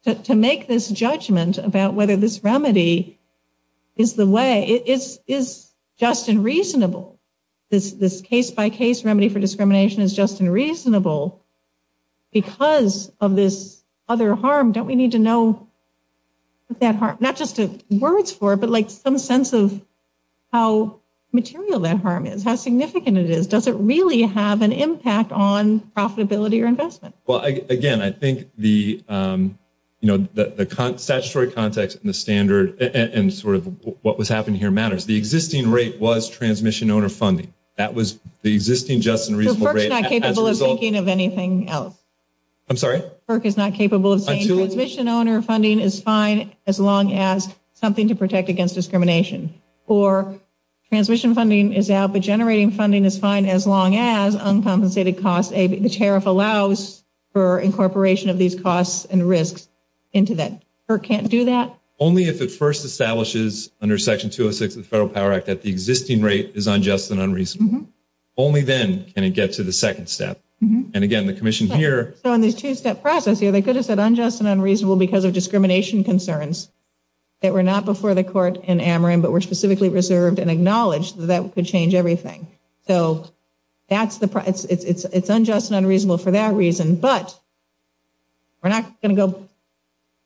to make this judgment about whether this remedy is the way. It is just and reasonable. This case-by-case remedy for discrimination is just and reasonable because of this other harm. Don't we need to know that harm? Not just the words for it, but like some sense of how material that harm is, how significant it is. Does it really have an impact on profitability or investment? Well, again, I think the statutory context and the standard and sort of what was happening here matters. The existing rate was transmission owner funding. That was the existing just and reasonable rate as a result. FERC is not capable of thinking of anything else. I'm sorry? FERC is not capable of saying transmission owner funding is fine as long as something to protect against discrimination. Or transmission funding is out, but generating funding is fine as long as uncompensated costs, the tariff allows for incorporation of these costs and risks into that. FERC can't do that? Only if it first establishes under Section 206 of the Federal Power Act that the existing rate is unjust and unreasonable. Only then can it get to the second step. And, again, the commission here. So in this two-step process, they could have said unjust and unreasonable because of discrimination concerns. They were not before the court in Ameren, but were specifically reserved and acknowledged that that could change everything. So it's unjust and unreasonable for that reason. But we're not going to go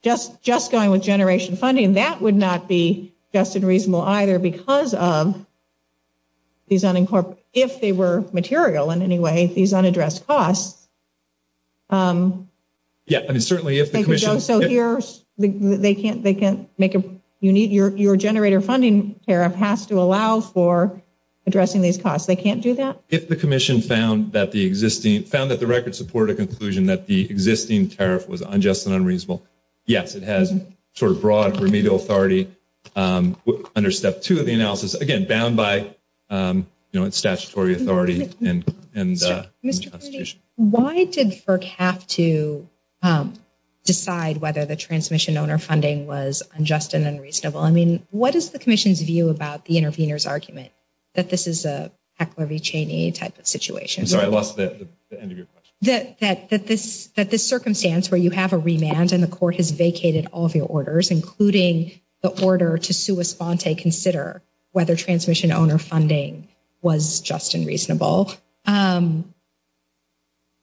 just going with generation funding. That would not be just and reasonable either because of these unincorporated. If they were material in any way, these unaddressed costs. Yeah, I mean, certainly if the commission. So they can't make a, your generator funding tariff has to allow for addressing these costs. They can't do that? If the commission found that the record supported a conclusion that the existing tariff was unjust and unreasonable. Yes, it has sort of broad remedial authority under Step 2 of the analysis. Again, bound by statutory authority. Why did FERC have to decide whether the transmission owner funding was unjust and unreasonable? I mean, what is the commission's view about the intervener's argument that this is a type of situation? Sorry, I lost the end of your question. That this circumstance where you have a remand and the court has vacated all of your orders, including the order to sui sponte consider whether transmission owner funding was just and reasonable. Did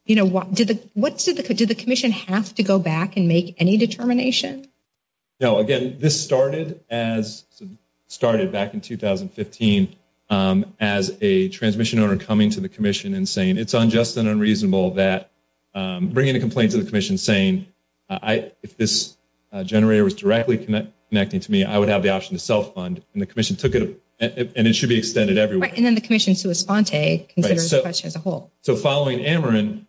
the commission have to go back and make any determination? No, again, this started back in 2015 as a transmission owner coming to the commission and saying, if this generator was directly connecting to me, I would have the option to self-fund. And the commission took it and it should be extended everywhere. And then the commission sui sponte considers the question as a whole. So following Ameren,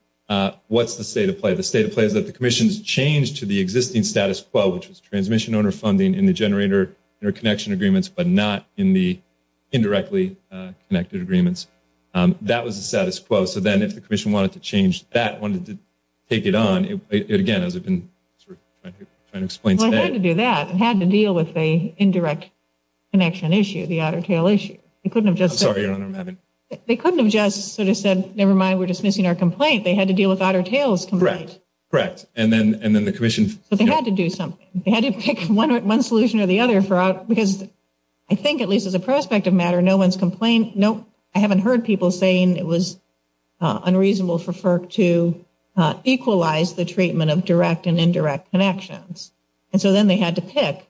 what's the state of play? The state of play is that the commission has changed to the existing status quo, which was transmission owner funding in the generator interconnection agreements, but not in the indirectly connected agreements. That was the status quo. So then if the commission wanted to change that, wanted to take it on, again, I can explain that. Well, they had to do that. They had to deal with the indirect connection issue, the otter tail issue. They couldn't have just sort of said, never mind, we're dismissing our complaint. They had to deal with otter tail's complaint. Correct, correct. But they had to do something. They had to pick one solution or the other because I think at least as a prospective matter, no one's complained. I haven't heard people saying it was unreasonable for FERC to equalize the treatment of direct and indirect connections. And so then they had to pick.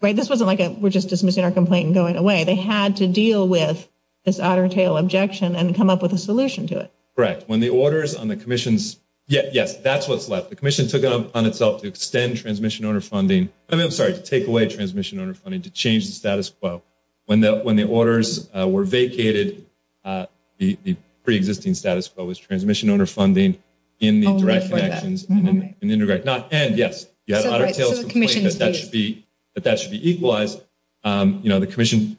This wasn't like we're just dismissing our complaint and going away. They had to deal with this otter tail objection and come up with a solution to it. Correct. When the orders on the commission's – yes, that's what's left. The commission took it on itself to extend transmission owner funding. I'm sorry, to take away transmission owner funding, to change the status quo. When the orders were vacated, the preexisting status quo was transmission owner funding in the direct connections. And, yes, you had otter tail's complaint that that should be equalized. You know, the commission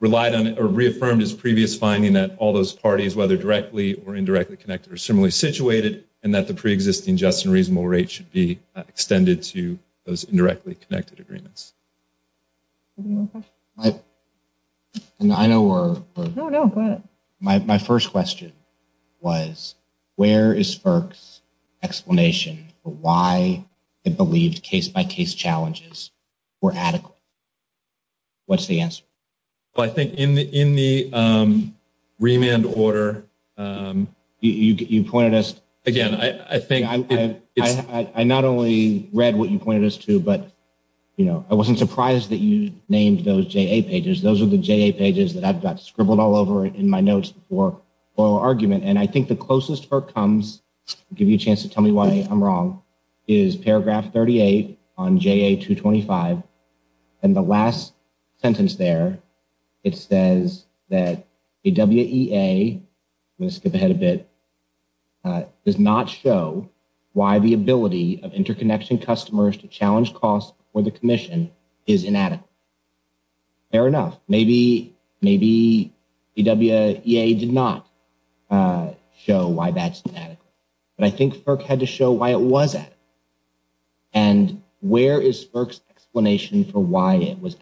relied on or reaffirmed its previous finding that all those parties, whether directly or indirectly connected, are similarly situated and that the preexisting just and reasonable rate should be extended to those indirectly connected agreements. Any more questions? I know we're – No, no, go ahead. My first question was where is FERC's explanation for why it believes case-by-case challenges were adequate? What's the answer? Well, I think in the remand order, you pointed us – again, I think – I not only read what you pointed us to, but, you know, I wasn't surprised that you named those JA pages. Those are the JA pages that I've got scribbled all over in my notes for our argument. And I think the closest FERC comes, to give you a chance to tell me why I'm wrong, is paragraph 38 on JA 225. In the last sentence there, it says that the WEA – I'm going to skip ahead a bit – does not show why the ability of interconnection customers to challenge costs for the commission is inadequate. Fair enough. Maybe the WEA did not show why that's inadequate. But I think FERC had to show why it was adequate. And where is FERC's explanation for why it was?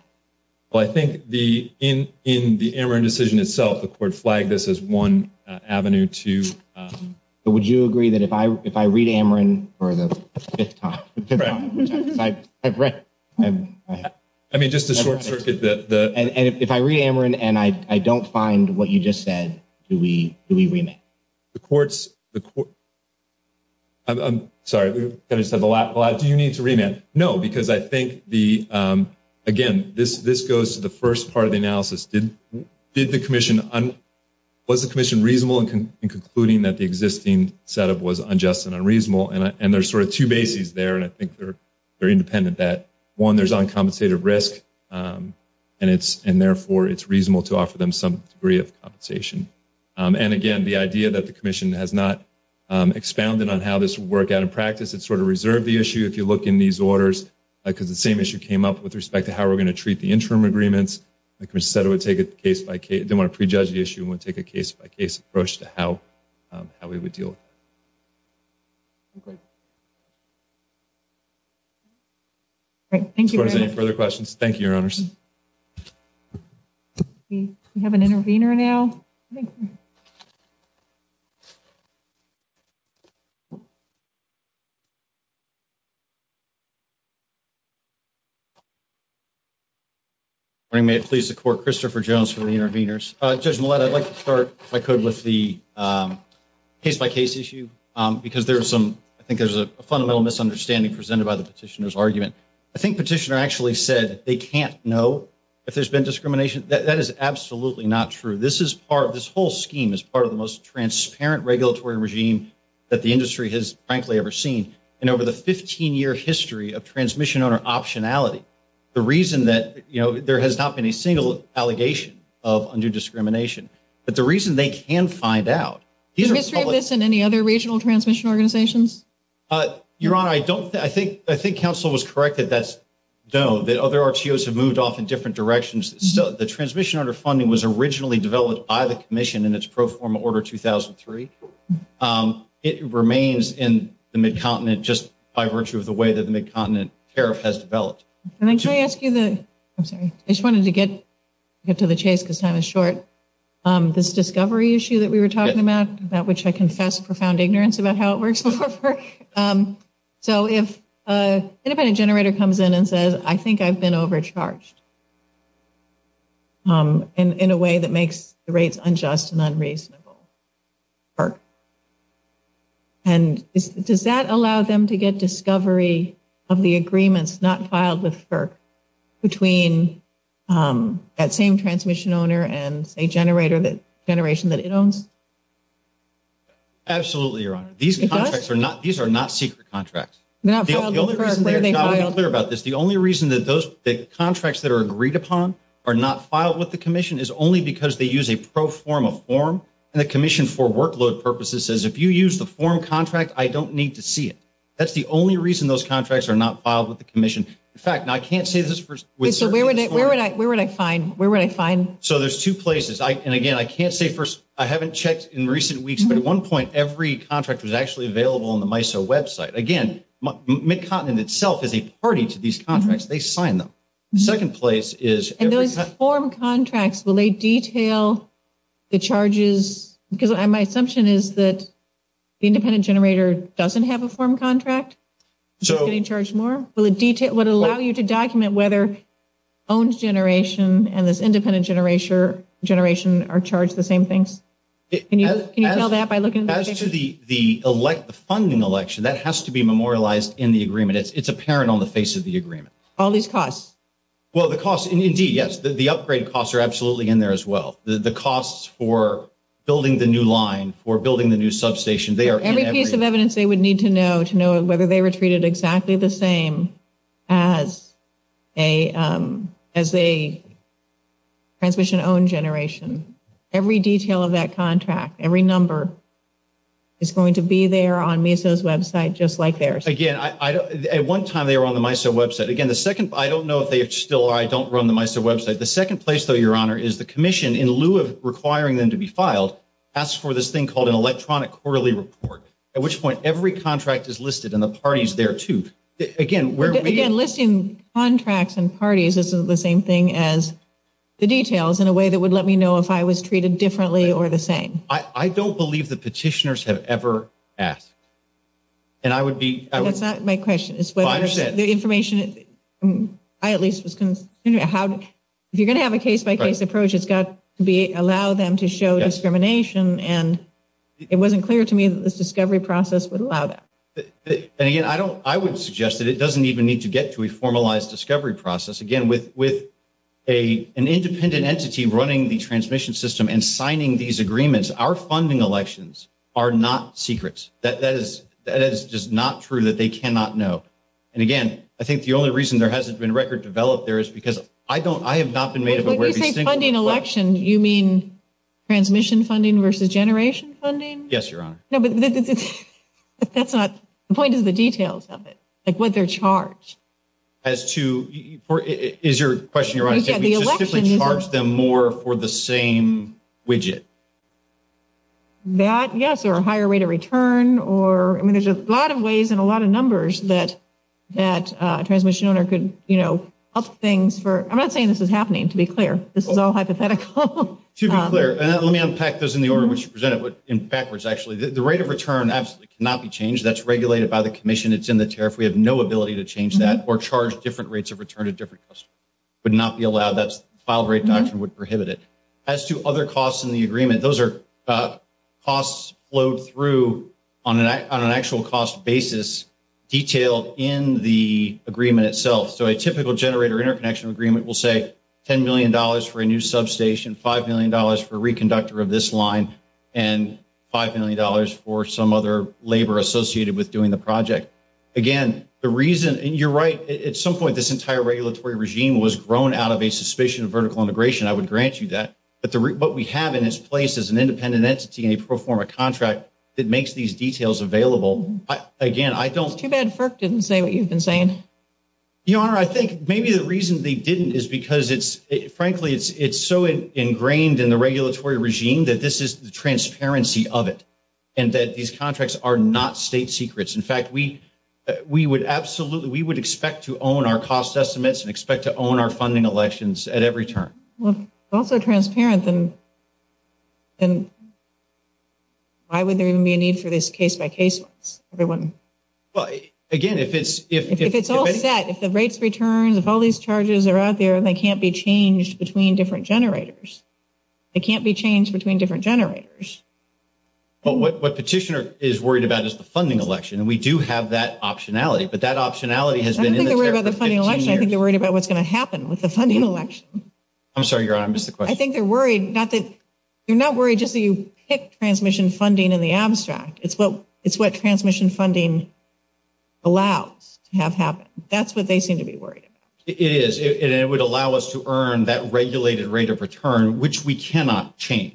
Well, I think in the Ameren decision itself, the court flagged this as one avenue to – But would you agree that if I read Ameren for the fifth time – I mean, just to short-circuit the – And if I read Ameren and I don't find what you just said, do we remand? The courts – I'm sorry. I said the last – Do you need to remand? No, because I think the – Again, this goes to the first part of the analysis. Did the commission – Was the commission reasonable in concluding that the existing setup was unjust and unreasonable? And there's sort of two bases there, and I think they're independent. One, there's uncompensated risk, and therefore it's reasonable to offer them some degree of compensation. And, again, the idea that the commission has not expounded on how this would work out in practice. It sort of reserved the issue, if you look in these orders, because the same issue came up with respect to how we're going to treat the interim agreements. The commission said it would take a case-by-case – They want to prejudge the issue and would take a case-by-case approach to how we would deal. Great. Thank you, Eric. If there are no further questions, thank you, Your Honors. Do we have an intervener now? If I may, please support Christopher Jones for the interveners. Judge Millett, I'd like to start, if I could, with the case-by-case issue, because there's some – I think there's a fundamental misunderstanding presented by the petitioner's argument. I think the petitioner actually said they can't know if there's been discrimination. That is absolutely not true. This is part – this whole scheme is part of the most transparent regulatory regime that the industry has, frankly, ever seen. And over the 15-year history of transmission-owner optionality, the reason that – you know, there has not been a single allegation of undue discrimination. But the reason they can find out – Do you disagree with this and any other regional transmission organizations? Your Honor, I don't – I think counsel was correct that that's – no, that other RTOs have moved off in different directions. The transmission-owner funding was originally developed by the commission in its pro forma order 2003. It remains in the Mid-Continent just by virtue of the way that the Mid-Continent tariff has developed. Can I try to ask you the – I'm sorry. I just wanted to get to the case because time is short. This discovery issue that we were talking about, that which I confess profound ignorance about how it works, so if a generator comes in and says, I think I've been overcharged in a way that makes the rates unjust and unreasonable. And does that allow them to get discovery of the agreements not filed with FERC between that same transmission-owner and a generator that – generation that it owns? Absolutely, Your Honor. These contracts are not – these are not secret contracts. The only reason – I want to be clear about this. The only reason that those – the contracts that are agreed upon are not filed with the commission is only because they use a pro forma form and the commission for workload purposes says, if you use the form contract, I don't need to see it. That's the only reason those contracts are not filed with the commission. In fact, now I can't say this for – Where would I find – where would I find – So there's two places. And again, I can't say for – I haven't checked in recent weeks, but at one point every contract was actually available on the MISO website. Again, McContenant itself is a party to these contracts. They signed them. The second place is – And those form contracts, will they detail the charges? Because my assumption is that the independent generator doesn't have a form contract. Will they charge more? Will it detail – would it allow you to document whether owned generation and this independent generation are charged the same thing? Can you tell that by looking at the picture? As to the funding election, that has to be memorialized in the agreement. It's apparent on the face of the agreement. All these costs. Well, the costs, indeed, yes. The upgrade costs are absolutely in there as well. Every piece of evidence they would need to know to know whether they were treated exactly the same as a transmission-owned generation. Every detail of that contract, every number, is going to be there on MISO's website just like theirs. Again, at one time they were on the MISO website. Again, the second – I don't know if they still are. I don't run the MISO website. The second place, though, Your Honor, is the commission, in lieu of requiring them to be filed, asks for this thing called an electronic quarterly report, at which point every contract is listed and the parties there, too. Again, where we – Again, listing contracts and parties isn't the same thing as the details in a way that would let me know if I was treated differently or the same. I don't believe the petitioners have ever asked. And I would be – That's not my question. Well, I understand. The information – I at least – if you're going to have a case-by-case approach, it's got to be – allow them to show discrimination. And it wasn't clear to me that this discovery process would allow that. And, again, I would suggest that it doesn't even need to get to a formalized discovery process. Again, with an independent entity running the transmission system and signing these agreements, our funding elections are not secrets. That is just not true, that they cannot know. And, again, I think the only reason there hasn't been record developed there is because I don't – When you say funding election, you mean transmission funding versus generation funding? Yes, Your Honor. No, but that's not – the point is the details of it, like what they're charged. As to – is your question, Your Honor, can we specifically charge them more for the same widget? That, yes, or a higher rate of return, or – I mean, there's a lot of ways and a lot of numbers that a transmission owner could, you know, up things for – I'm not saying this is happening, to be clear. This is all hypothetical. To be clear, and let me unpack this in the order in which you present it, but in backwards, actually. The rate of return absolutely cannot be changed. That's regulated by the commission. It's in the tariff. We have no ability to change that or charge different rates of return at different costs. It would not be allowed. That's the file rate doctrine would prohibit it. As to other costs in the agreement, those are costs flowed through on an actual cost basis, detailed in the agreement itself. So a typical generator interconnection agreement will say $10 million for a new substation, $5 million for a reconductor of this line, and $5 million for some other labor associated with doing the project. Again, the reason – and you're right. At some point, this entire regulatory regime was grown out of a suspicion of vertical integration. I would grant you that. But what we have in its place is an independent entity and a pro forma contract that makes these details available. Again, I don't – Too bad FERC didn't say what you've been saying. Your Honor, I think maybe the reason they didn't is because, frankly, it's so ingrained in the regulatory regime that this is the transparency of it and that these contracts are not state secrets. In fact, we would absolutely – we would expect to own our cost estimates and expect to own our funding elections at every turn. Well, if it's all so transparent, then why would there even be a need for this case-by-case? Well, again, if it's – If it's all set, if the rates return, if all these charges are out there, they can't be changed between different generators. They can't be changed between different generators. But what Petitioner is worried about is the funding election, and we do have that optionality. I think they're worried about what's going to happen with the funding election. I'm sorry, Your Honor, I missed the question. I think they're worried – you're not worried just so you pick transmission funding in the abstract. It's what transmission funding allows to have happen. That's what they seem to be worried about. It is, and it would allow us to earn that regulated rate of return, which we cannot change.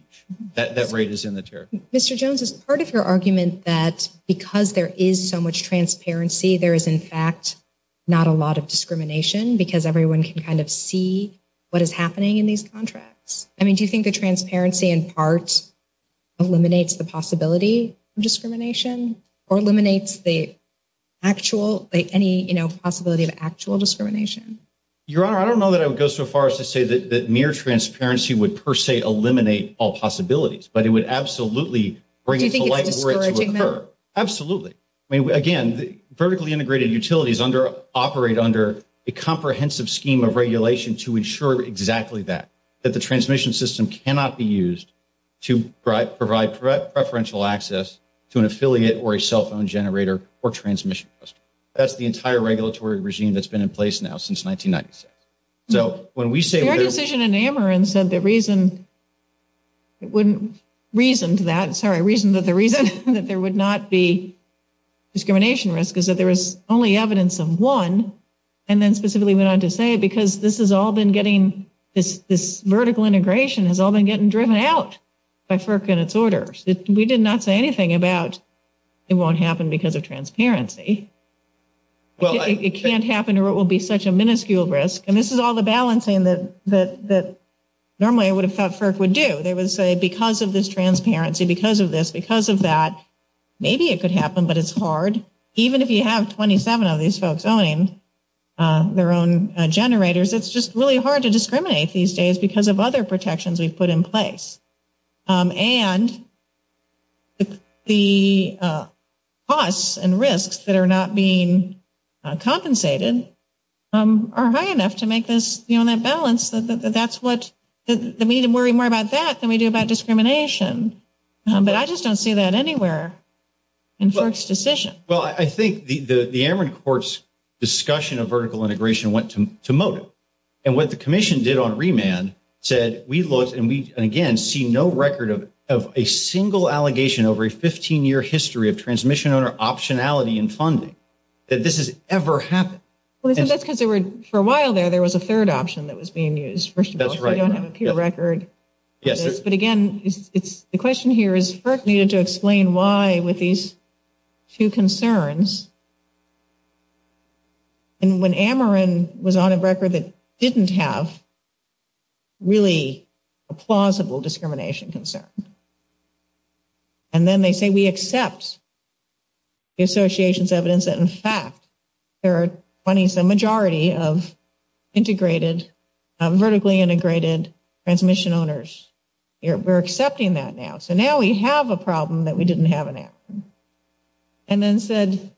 That rate is in the tariff. Mr. Jones, is part of your argument that because there is so much transparency, there is, in fact, not a lot of discrimination because everyone can kind of see what is happening in these contracts? I mean, do you think the transparency in part eliminates the possibility of discrimination or eliminates the actual – any possibility of actual discrimination? Your Honor, I don't know that I would go so far as to say that mere transparency would per se eliminate all possibilities. But it would absolutely bring – Do you think it's discouraging that? Absolutely. I mean, again, vertically integrated utilities operate under a comprehensive scheme of regulation to ensure exactly that, that the transmission system cannot be used to provide preferential access to an affiliate or a cell phone generator or transmission system. That's the entire regulatory regime that's been in place now since 1990. So when we say – Your decision in Ameren said the reason – it wouldn't – reasoned that – sorry, reasoned that the reason that there would not be discrimination risk is that there is only evidence in one, and then specifically went on to say because this has all been getting – this vertical integration has all been getting driven out by FERC and its orders. We did not say anything about it won't happen because of transparency. Well, I – It can't happen or it will be such a minuscule risk. And this is all the balancing that normally I would have thought FERC would do. They would say because of this transparency, because of this, because of that, maybe it could happen, but it's hard. Even if you have 27 of these folks owning their own generators, it's just really hard to discriminate these days because of other protections we've put in place. And the costs and risks that are not being compensated are high enough to make this, you know, that balance. That's what – we need to worry more about that than we do about discrimination. But I just don't see that anywhere in FERC's decision. Well, I think the Ameren court's discussion of vertical integration went to motive. And what the commission did on remand said we looked and we, again, see no record of a single allegation over a 15-year history of transmission owner optionality in funding that this has ever happened. Well, that's because there were – for a while there, there was a third option that was being used, first of all. That's right. I don't have an appeal record. Yes. But again, the question here is FERC needed to explain why with these two concerns. And when Ameren was on a record that didn't have really a plausible discrimination concern, and then they say we accept the association's evidence that, in fact, there are funding for a majority of integrated – vertically integrated transmission owners. We're accepting that now. So now we have a problem that we didn't have in action. And then said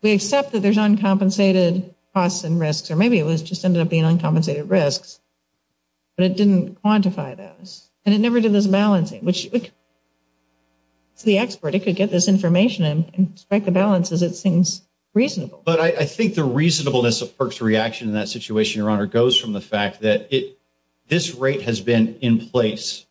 we accept that there's uncompensated costs and risks, or maybe it just ended up being uncompensated risks, but it didn't quantify those. And it never did this balancing, which to the expert, it could get this information and inspect the balances. It seems reasonable. But I think the reasonableness of FERC's reaction in that situation, Your Honor, goes from the fact that this rate has been in place,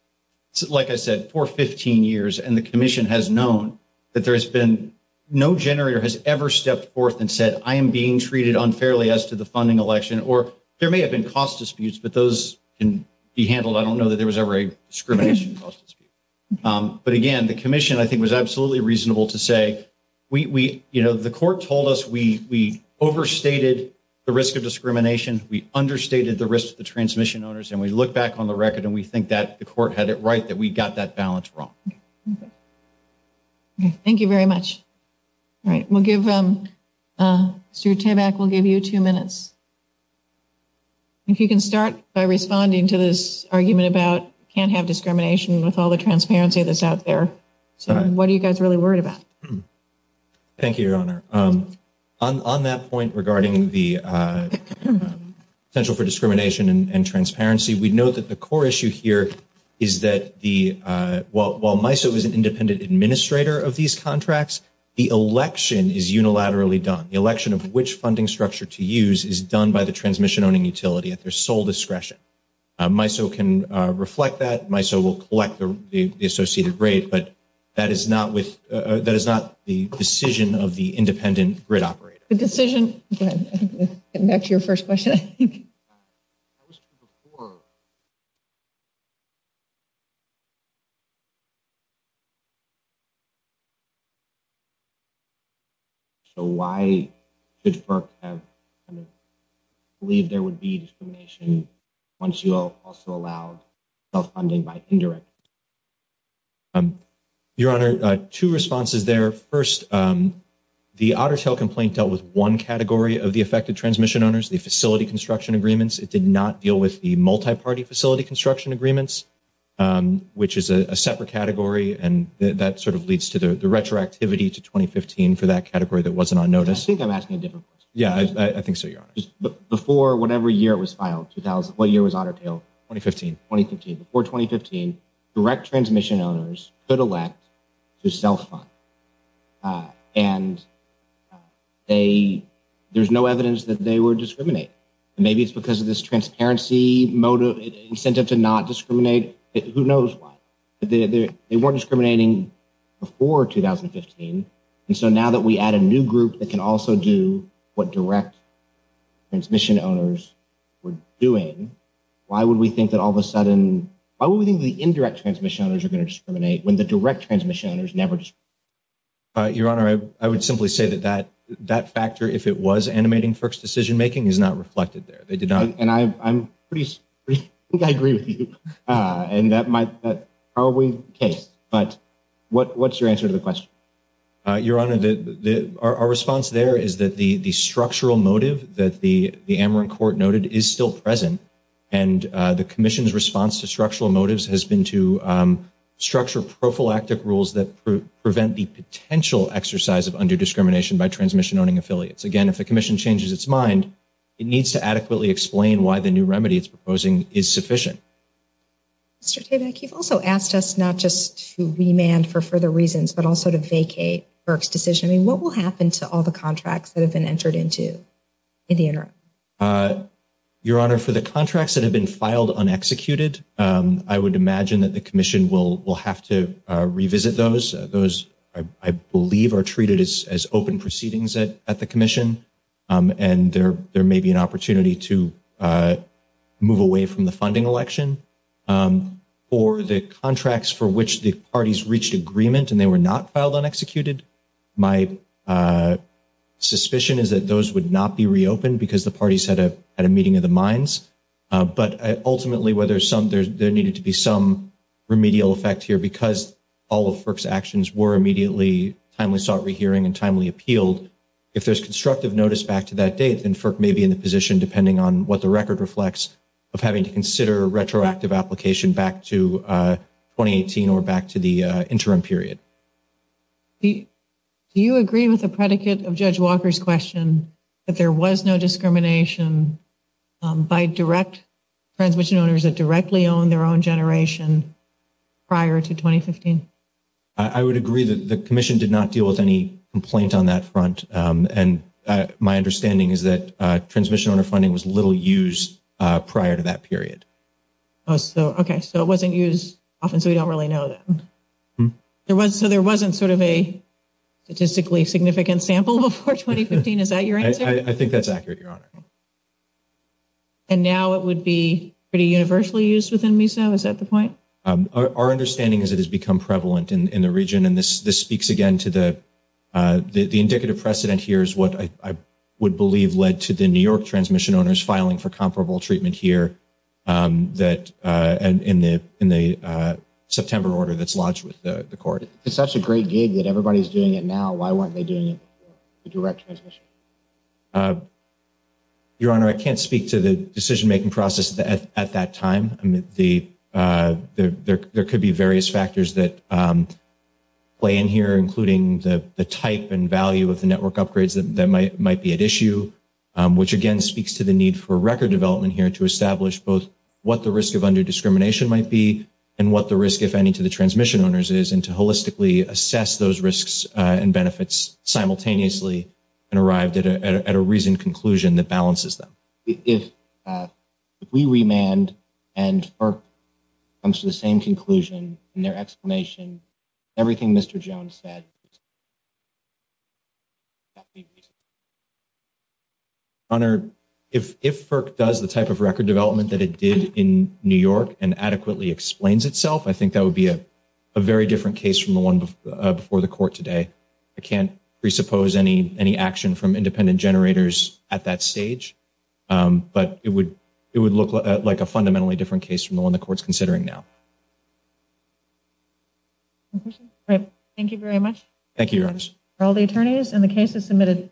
like I said, for 15 years. And the commission has known that there has been – no generator has ever stepped forth and said, I am being treated unfairly as to the funding election. Or there may have been cost disputes, but those can be handled. I don't know that there was ever a discrimination cost dispute. But again, the commission, I think, was absolutely reasonable to say, you know, the court told us we overstated the risk of discrimination. We understated the risk to the transmission owners. And we look back on the record and we think that the court had it right that we got that balance wrong. Thank you very much. All right, we'll give – Stewart Tabak will give you two minutes. If you can start by responding to this argument about can't have discrimination with all the transparency that's out there. What are you guys really worried about? Thank you, Your Honor. On that point regarding the potential for discrimination and transparency, we know that the core issue here is that the – while MISO is an independent administrator of these contracts, the election is unilaterally done. The election of which funding structure to use is done by the transmission owning utility at their sole discretion. MISO can reflect that. MISO will collect the associated rate. But that is not with – that is not the decision of the independent grid operator. The decision – go ahead. Back to your first question. That was two before. So why did FERC believe there would be discrimination once you also allow self-funding by indirect? Your Honor, two responses there. First, the Otter Tail complaint dealt with one category of the affected transmission owners, the facility construction agreements. It did not deal with the multi-party facility construction agreements, which is a separate category, and that sort of leads to the retroactivity to 2015 for that category that wasn't on notice. I think I'm asking a different question. Yeah, I think so, Your Honor. Before whatever year it was filed, 2000 – what year was Otter Tail? 2015. 2015. Before 2015, direct transmission owners could elect to self-fund. And they – there's no evidence that they were discriminated. Maybe it's because of this transparency incentive to not discriminate. Who knows why? They weren't discriminating before 2015. And so now that we add a new group that can also do what direct transmission owners were doing, why would we think that all of a sudden – why would we think the indirect transmission owners are going to discriminate when the direct transmission owners never discriminate? Your Honor, I would simply say that that factor, if it was animating FERC's decision-making, is not reflected there. It did not – And I'm pretty – I think I agree with you. And that might – but are we – okay. But what's your answer to the question? Your Honor, our response there is that the structural motive that the Ameren Court noted is still present. And the Commission's response to structural motives has been to structure prophylactic rules that prevent the potential exercise of underdiscrimination by transmission-owning affiliates. Again, if the Commission changes its mind, it needs to adequately explain why the new remedy it's proposing is sufficient. Mr. Tabak, you've also asked us not just to remand for further reasons but also to vacate FERC's decision. And what will happen to all the contracts that have been entered into in the interim? Your Honor, for the contracts that have been filed unexecuted, I would imagine that the Commission will have to revisit those. Those, I believe, are treated as open proceedings at the Commission. And there may be an opportunity to move away from the funding election. For the contracts for which the parties reached agreement and they were not filed unexecuted, my suspicion is that those would not be reopened because the parties had a meeting of the minds. But ultimately, there needed to be some remedial effect here because all of FERC's actions were immediately timely sought re-hearing and timely appealed. If there's constructive notice back to that date, then FERC may be in a position, depending on what the record reflects, of having to consider retroactive application back to 2018 or back to the interim period. Do you agree with the predicate of Judge Walker's question that there was no discrimination by direct transmission owners that directly owned their own generation prior to 2015? I would agree that the Commission did not deal with any complaint on that front. And my understanding is that transmission owner funding was little used prior to that period. Okay, so it wasn't used often, so we don't really know that. So there wasn't sort of a statistically significant sample before 2015, is that your answer? I think that's accurate, Your Honor. And now it would be pretty universally used within MISO, is that the point? Our understanding is it has become prevalent in the region. The indicative precedent here is what I would believe led to the New York transmission owners filing for comparable treatment here in the September order that's lodged with the court. It's such a great gig that everybody's doing it now. Why weren't they doing it with direct transmission? Your Honor, I can't speak to the decision-making process at that time. There could be various factors that play in here, including the type and value of the network upgrades that might be at issue, which, again, speaks to the need for record development here to establish both what the risk of underdiscrimination might be and what the risk, if any, to the transmission owners is, and to holistically assess those risks and benefits simultaneously and arrived at a reasoned conclusion that balances them. If we remand and FERC comes to the same conclusion in their explanation, everything Mr. Jones said, that would be reasonable. Your Honor, if FERC does the type of record development that it did in New York and adequately explains itself, I think that would be a very different case from the one before the court today. I can't presuppose any action from independent generators at that stage, but it would look like a fundamentally different case from the one the court's considering now. Thank you very much. Thank you, Your Honor.